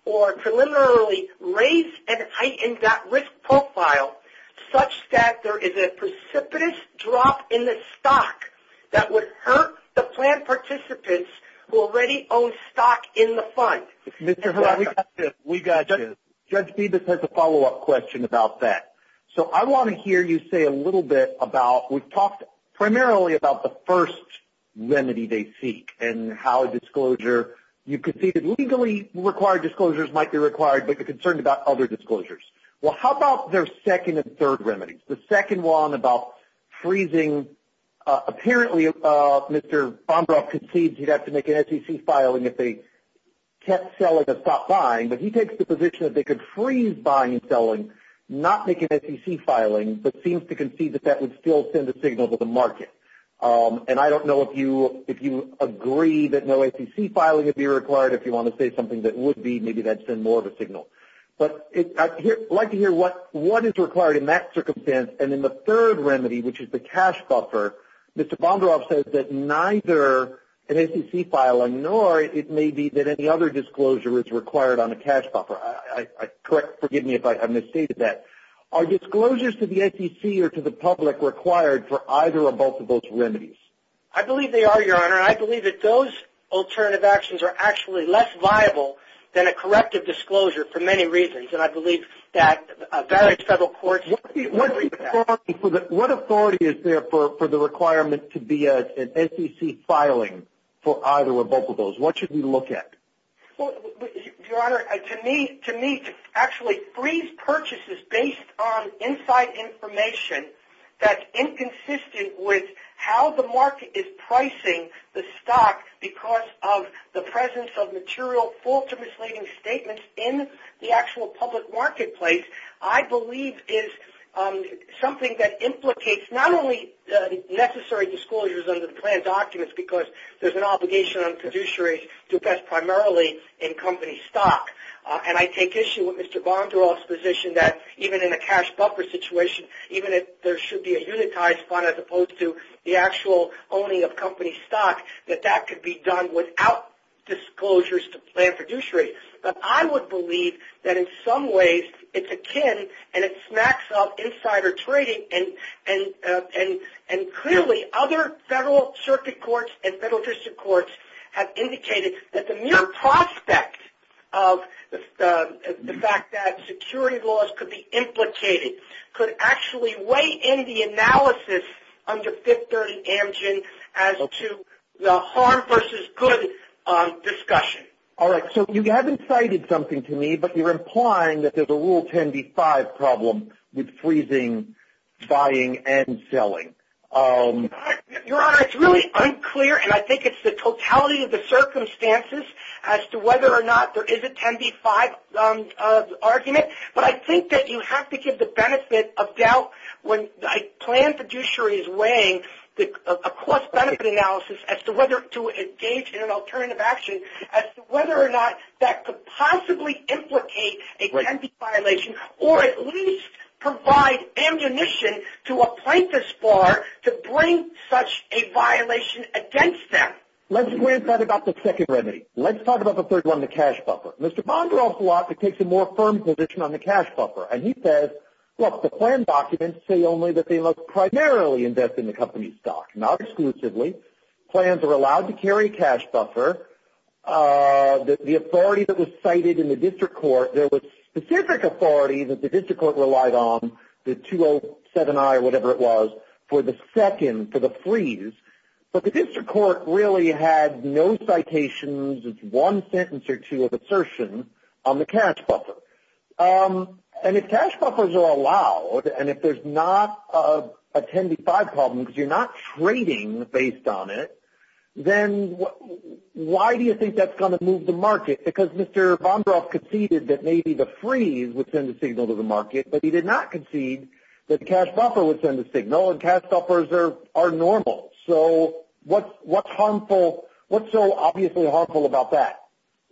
or preliminarily raise and heighten that risk profile such that there is a precipitous drop in the stock that would hurt the planned participants who already own stock in the fund. Mr. Herrera, we got you. Judge Phoebus has a follow-up question about that. So I want to hear you say a little bit about, we've talked primarily about the first remedy they seek and how a disclosure, you could see that legally required disclosures might be required, but they're concerned about other disclosures. Well, how about their second and third remedies? The second one about freezing, apparently Mr. Bondaroff concedes he'd have to make an SEC filing if they kept selling the top line, but he takes the position that they could freeze buying and selling, not make an SEC filing, but seems to concede that that would still send a signal to the market. And I don't know if you agree that no SEC filing would be required. If you want to say something that would be, maybe that would send more of a signal. But I'd like to hear what is required in that circumstance. And in the third remedy, which is the cash buffer, Mr. Bondaroff says that neither an SEC filing nor it may be that any other disclosure is required on a cash buffer. Forgive me if I misstated that. Are disclosures to the SEC or to the public required for either or both of those remedies? I believe they are, Your Honor, and I believe that those alternative actions are actually less viable than a corrective disclosure for many reasons. And I believe that various federal courts agree with that. What authority is there for the requirement to be an SEC filing for either or both of those? What should we look at? Your Honor, to me, actually freeze purchases based on inside information that's inconsistent with how the market is pricing the stock because of the presence of material false or misleading statements in the actual public marketplace, I believe is something that implicates not only the necessary disclosures under the plan documents because there's an obligation on the fiduciary to invest primarily in company stock. And I take issue with Mr. Bondaroff's position that even in a cash buffer situation, even if there should be a unitized bond as opposed to the actual owning of company stock, that that could be done without disclosures to plan fiduciary. But I would believe that in some ways it's akin and it smacks up insider trading. And clearly other federal circuit courts and federal district courts have indicated that the mere prospect of the fact that security laws could be implicated could actually weigh in the analysis under Fifth Third and Amgen as to the harm versus good discussion. All right. So you haven't cited something to me, but you're implying that there's a Rule 10b-5 problem with freezing, buying, and selling. Your Honor, it's really unclear, and I think it's the totality of the circumstances as to whether or not there is a 10b-5 argument. But I think that you have to give the benefit of doubt when a plan fiduciary is weighing a cost-benefit analysis as to whether to engage in an alternative action as to whether or not that could possibly implicate a remedy violation or at least provide ammunition to a plaintiff's bar to bring such a violation against them. Let's worry about the second remedy. Let's talk about the third one, the cash buffer. Mr. Bondaroff's law dictates a more firm position on the cash buffer. And he says, look, the plan documents say only that they must primarily invest in the company's stock, not exclusively. Plans are allowed to carry a cash buffer. The authority that was cited in the district court, there was specific authority that the district court relied on, the 207-I or whatever it was, for the second, for the freeze. But the district court really had no citations, one sentence or two of assertion on the cash buffer. And if cash buffers are allowed and if there's not a 10b-5 problem because you're not trading based on it, then why do you think that's going to move the market? Because Mr. Bondaroff conceded that maybe the freeze would send a signal to the market, but he did not concede that the cash buffer would send a signal, and cash buffers are normal. So what's harmful? What's so obviously harmful about that?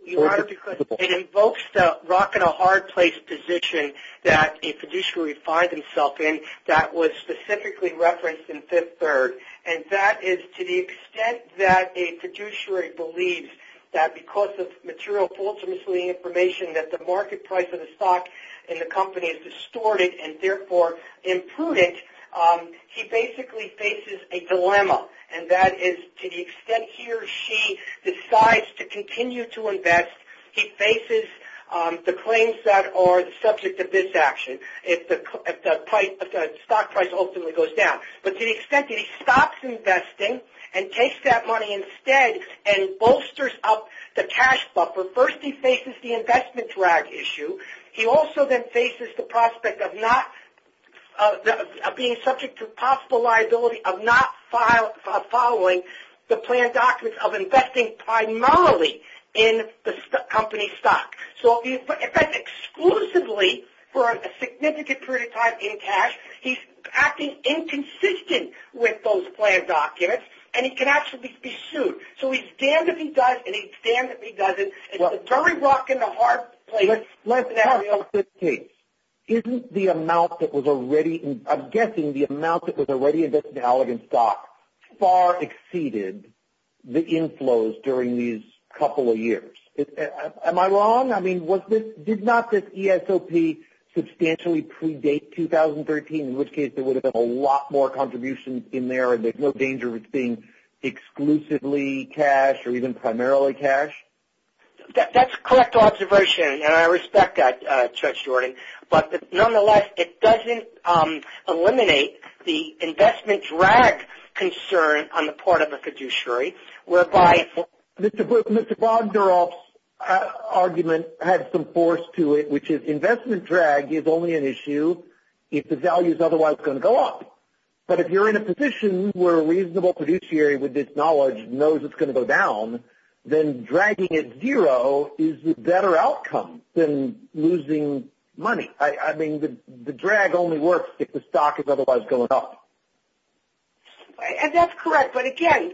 It invokes the rock-and-a-hard-place position that a fiduciary finds himself in that was specifically referenced in Fifth Third. And that is to the extent that a fiduciary believes that because of material false information, that the market price of the stock in the company is distorted and therefore imprudent, he basically faces a dilemma, and that is to the extent he or she decides to continue to invest, he faces the claims that are the subject of this action if the stock price ultimately goes down. But to the extent that he stops investing and takes that money instead and bolsters up the cash buffer, first he faces the investment drag issue. He also then faces the prospect of being subject to possible liability of not following the planned documents, of investing primarily in the company's stock. So in fact, exclusively for a significant period of time in cash, he's acting inconsistent with those planned documents, and he can actually be sued. So he's damned if he does, and he's damned if he doesn't. It's a dirty work and a hard place. Let's talk about this case. Isn't the amount that was already – I'm guessing the amount that was already invested in Allegan's stock far exceeded the inflows during these couple of years? Am I wrong? I mean, did not this ESOP substantially predate 2013, in which case there would have been a lot more contributions in there and there's no danger of it being exclusively cash or even primarily cash? That's a correct observation, and I respect that, Judge Jordan. But nonetheless, it doesn't eliminate the investment drag concern on the part of the fiduciary, whereby – Mr. Bogdanoff's argument had some force to it, which is investment drag is only an issue if the value is otherwise going to go up. But if you're in a position where a reasonable fiduciary with this knowledge knows it's going to go down, then dragging it zero is the better outcome than losing money. I mean, the drag only works if the stock is otherwise going up. And that's correct, but again,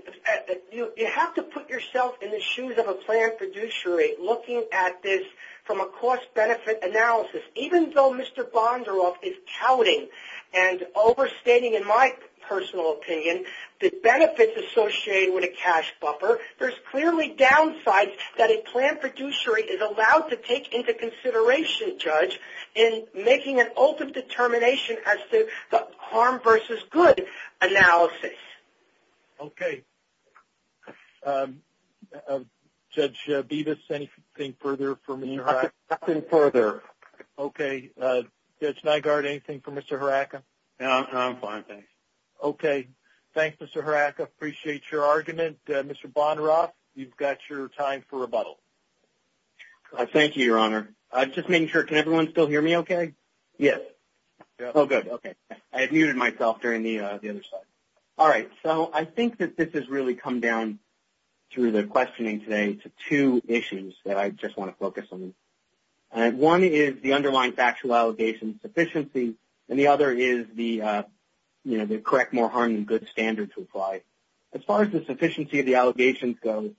you have to put yourself in the shoes of a planned fiduciary looking at this from a cost-benefit analysis. Even though Mr. Bogdanoff is touting and overstating, in my personal opinion, the benefits associated with a cash buffer, there's clearly downsides that a planned fiduciary is allowed to take into consideration, Judge, in making an ultimate determination as to the harm versus good analysis. Okay. Okay. Judge Bevis, anything further for me? Nothing further. Okay. Judge Nygaard, anything for Mr. Haraka? No, I'm fine, thanks. Okay. Thanks, Mr. Haraka. Appreciate your argument. Mr. Bogdanoff, you've got your time for rebuttal. Thank you, Your Honor. Just making sure, can everyone still hear me okay? Yes. Oh, good. Okay. I muted myself during the other side. All right. So I think that this has really come down through the questioning today to two issues that I just want to focus on. One is the underlying factual allegations sufficiency, and the other is the correct more harm than good standard to apply. As far as the sufficiency of the allegations go,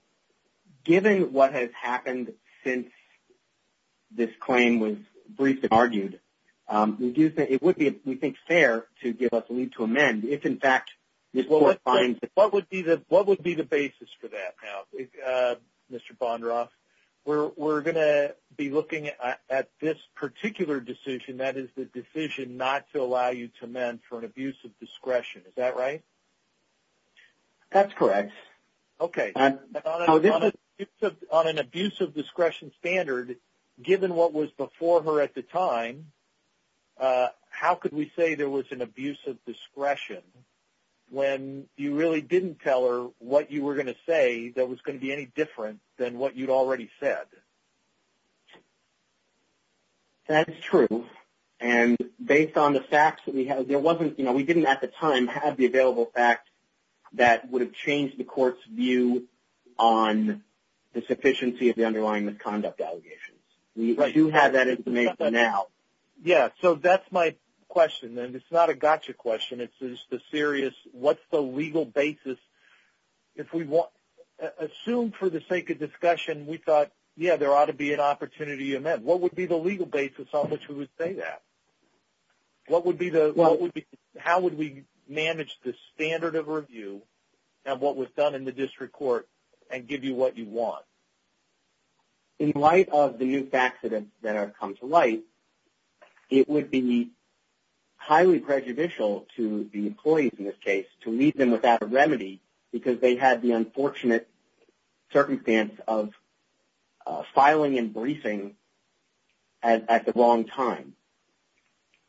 given what has happened since this claim was briefly argued, it would be, we think, fair to give us a lead to amend if, in fact, this court finds that. What would be the basis for that now, Mr. Bogdanoff? We're going to be looking at this particular decision, that is the decision not to allow you to amend for an abuse of discretion. Is that right? That's correct. Okay. On an abuse of discretion standard, given what was before her at the time, how could we say there was an abuse of discretion when you really didn't tell her what you were going to say that was going to be any different than what you'd already said? That's true. And based on the facts that we have, there wasn't, you know, we didn't at the time have the available facts that would have changed the court's view on the sufficiency of the underlying misconduct allegations. We do have that information now. Yeah, so that's my question, and it's not a gotcha question. It's just a serious, what's the legal basis? If we assume for the sake of discussion, we thought, yeah, there ought to be an opportunity to amend. What would be the legal basis on which we would say that? How would we manage the standard of review and what was done in the district court and give you what you want? In light of the youth accidents that have come to light, it would be highly prejudicial to the employees in this case to leave them without a remedy because they had the unfortunate circumstance of filing and briefing at the wrong time,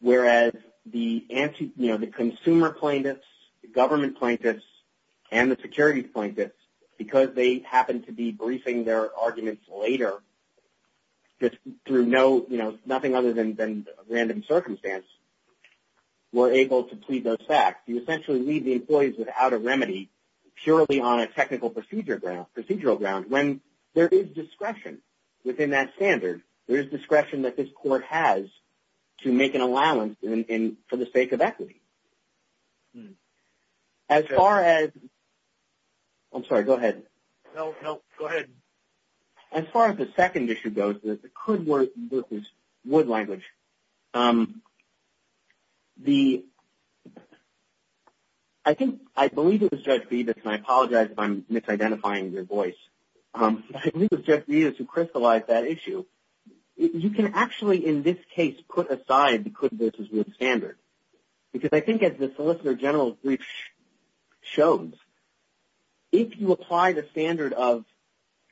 whereas the consumer plaintiffs, the government plaintiffs, and the security plaintiffs, because they happened to be briefing their arguments later through nothing other than random circumstance, were able to plead those facts. You essentially leave the employees without a remedy purely on a technical procedural ground when there is discretion within that standard. There is discretion that this court has to make an allowance for the sake of equity. As far as the second issue goes, the could versus would language, I believe it was Judge Bevis, and I apologize if I'm misidentifying your voice. I believe it was Judge Bevis who crystallized that issue. You can actually in this case put aside the could versus would standard because I think as the solicitor general's brief shows, if you apply the standard of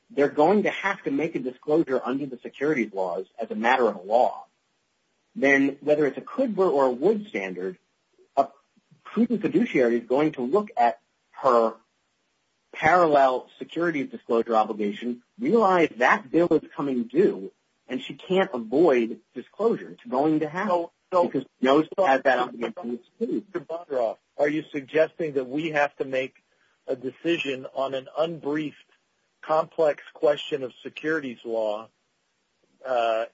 they're going to have to make a disclosure under the securities laws as a matter of law, then whether it's a could versus would standard, a prudent fiduciary is going to look at her parallel securities disclosure obligation, realize that bill is coming due, and she can't avoid disclosure. It's going to happen. So are you suggesting that we have to make a decision on an unbriefed complex question of securities law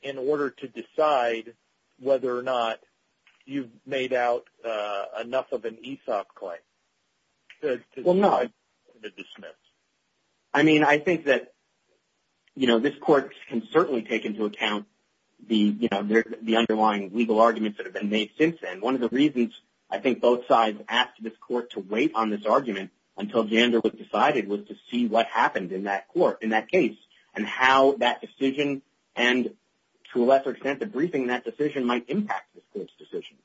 in order to decide whether or not you've made out enough of an ESOP claim to dismiss? Well, no. One of the reasons I think both sides asked this court to wait on this argument until Gander was decided was to see what happened in that court, in that case, and how that decision and to a lesser extent the briefing in that decision might impact this court's decision.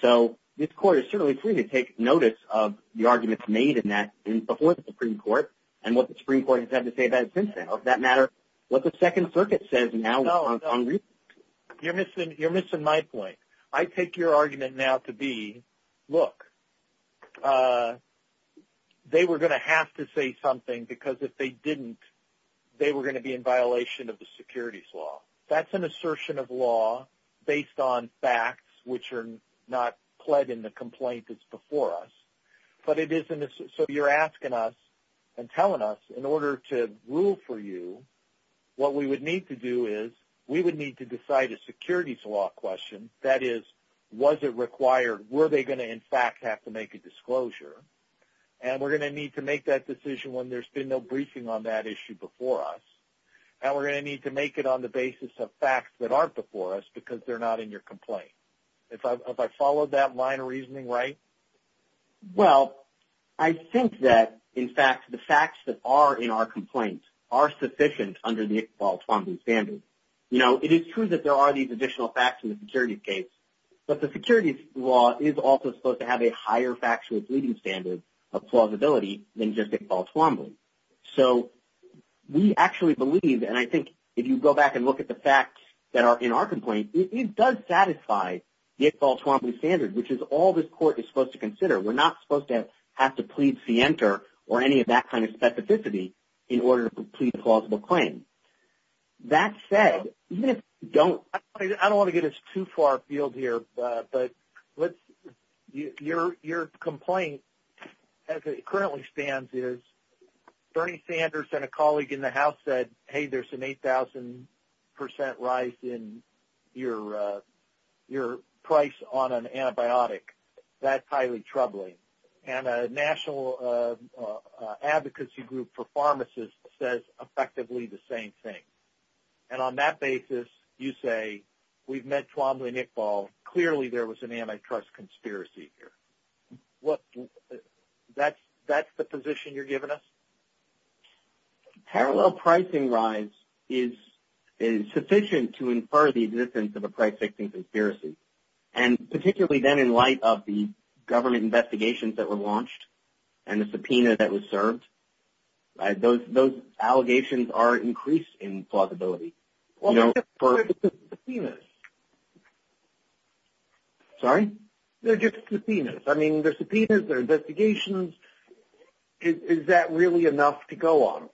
So this court is certainly free to take notice of the arguments made in that before the Supreme Court and what the Supreme Court has had to say about it since then. Or for that matter, what the Second Circuit says now on briefing. You're missing my point. I take your argument now to be, look, they were going to have to say something, because if they didn't, they were going to be in violation of the securities law. That's an assertion of law based on facts which are not pled in the complaint that's before us. So you're asking us and telling us in order to rule for you, what we would need to do is we would need to decide a securities law question. That is, was it required? Were they going to in fact have to make a disclosure? And we're going to need to make that decision when there's been no briefing on that issue before us. And we're going to need to make it on the basis of facts that aren't before us, because they're not in your complaint. Have I followed that line of reasoning right? Well, I think that in fact the facts that are in our complaint are sufficient under the Iqbal-Tuamvi standard. You know, it is true that there are these additional facts in the securities case, but the securities law is also supposed to have a higher factual bleeding standard of plausibility than just Iqbal-Tuamvi. So we actually believe, and I think if you go back and look at the facts that are in our complaint, it does satisfy the Iqbal-Tuamvi standard, which is all this court is supposed to consider. We're not supposed to have to plead scienter or any of that kind of specificity in order to plead a plausible claim. That said, even if you don't – I don't want to get us too far afield here, but your complaint as it currently stands is Bernie Sanders and a colleague in the House said, hey, there's an 8,000% rise in your price on an antibiotic. That's highly troubling. And a national advocacy group for pharmacists says effectively the same thing. And on that basis, you say we've met Tuamvi and Iqbal. Clearly there was an antitrust conspiracy here. That's the position you're giving us? Parallel pricing rise is sufficient to infer the existence of a price fixing conspiracy. And particularly then in light of the government investigations that were launched and the subpoena that was served, those allegations are increased in plausibility. Well, they're just subpoenas. Sorry? They're just subpoenas. I mean, they're subpoenas, they're investigations. Is that really enough to go on?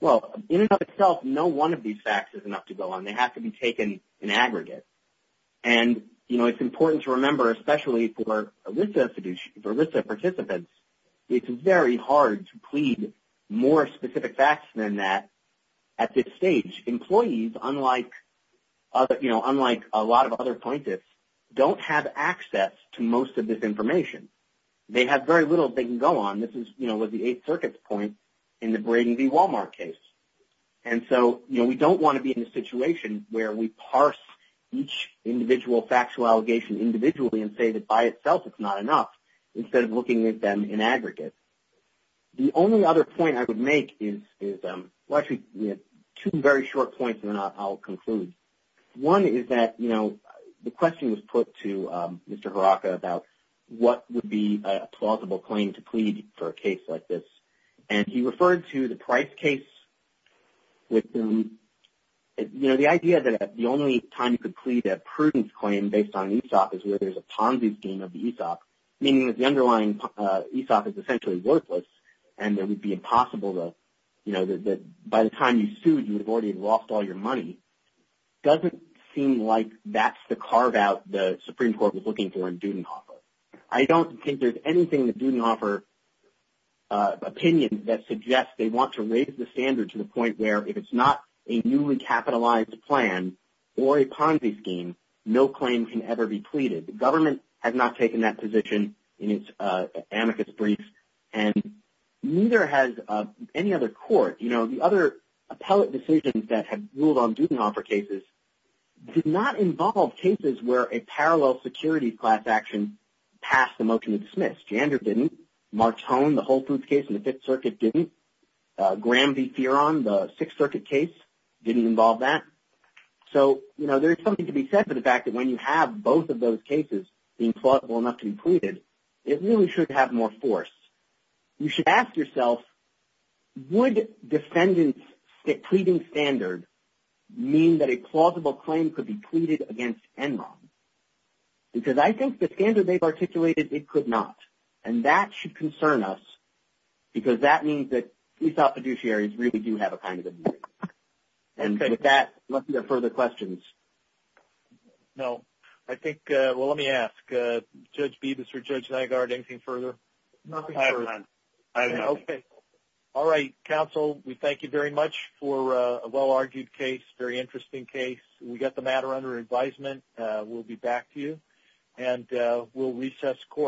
Well, in and of itself, no one of these facts is enough to go on. They have to be taken in aggregate. And it's important to remember, especially for ELISA participants, it's very hard to plead more specific facts than that at this stage. Employees, unlike a lot of other plaintiffs, don't have access to most of this information. They have very little they can go on. This is, you know, the Eighth Circuit's point in the Brady v. Walmart case. And so, you know, we don't want to be in a situation where we parse each individual factual allegation individually and say that by itself it's not enough instead of looking at them in aggregate. The only other point I would make is – well, actually, two very short points and then I'll conclude. One is that, you know, the question was put to Mr. Haraka about what would be a plausible claim to plead for a case like this. And he referred to the Price case with – you know, the idea that the only time you could plead a prudence claim based on ESOP is where there's a Ponzi scheme of the ESOP, meaning that the underlying ESOP is essentially worthless and that it would be impossible to – you know, that by the time you sued, you've already lost all your money. It doesn't seem like that's the carve-out the Supreme Court was looking for in Dudenhofer. I don't think there's anything in the Dudenhofer opinion that suggests they want to raise the standard to the point where if it's not a newly capitalized plan or a Ponzi scheme, no claim can ever be pleaded. The government has not taken that position in its amicus brief and neither has any other court. You know, the other appellate decisions that have ruled on Dudenhofer cases did not involve cases where a parallel security class action passed the motion to dismiss. Jandor didn't. Martone, the whole proof case in the Fifth Circuit didn't. Graham v. Fearon, the Sixth Circuit case didn't involve that. So, you know, there's something to be said for the fact that when you have both of those cases being plausible enough to be pleaded, it really should have more force. You should ask yourself, would defendants' pleading standard mean that a plausible claim could be pleaded against Enron? Because I think the standard they've articulated, it could not. And that should concern us because that means that these fiduciaries really do have a kind of a view. And with that, let's see if there are further questions. No, I think. Well, let me ask Judge Beavis or Judge Naggard, anything further? Nothing further. I don't know. Okay. All right, counsel, we thank you very much for a well-argued case, very interesting case. We got the matter under advisement. We'll be back to you and we'll recess court.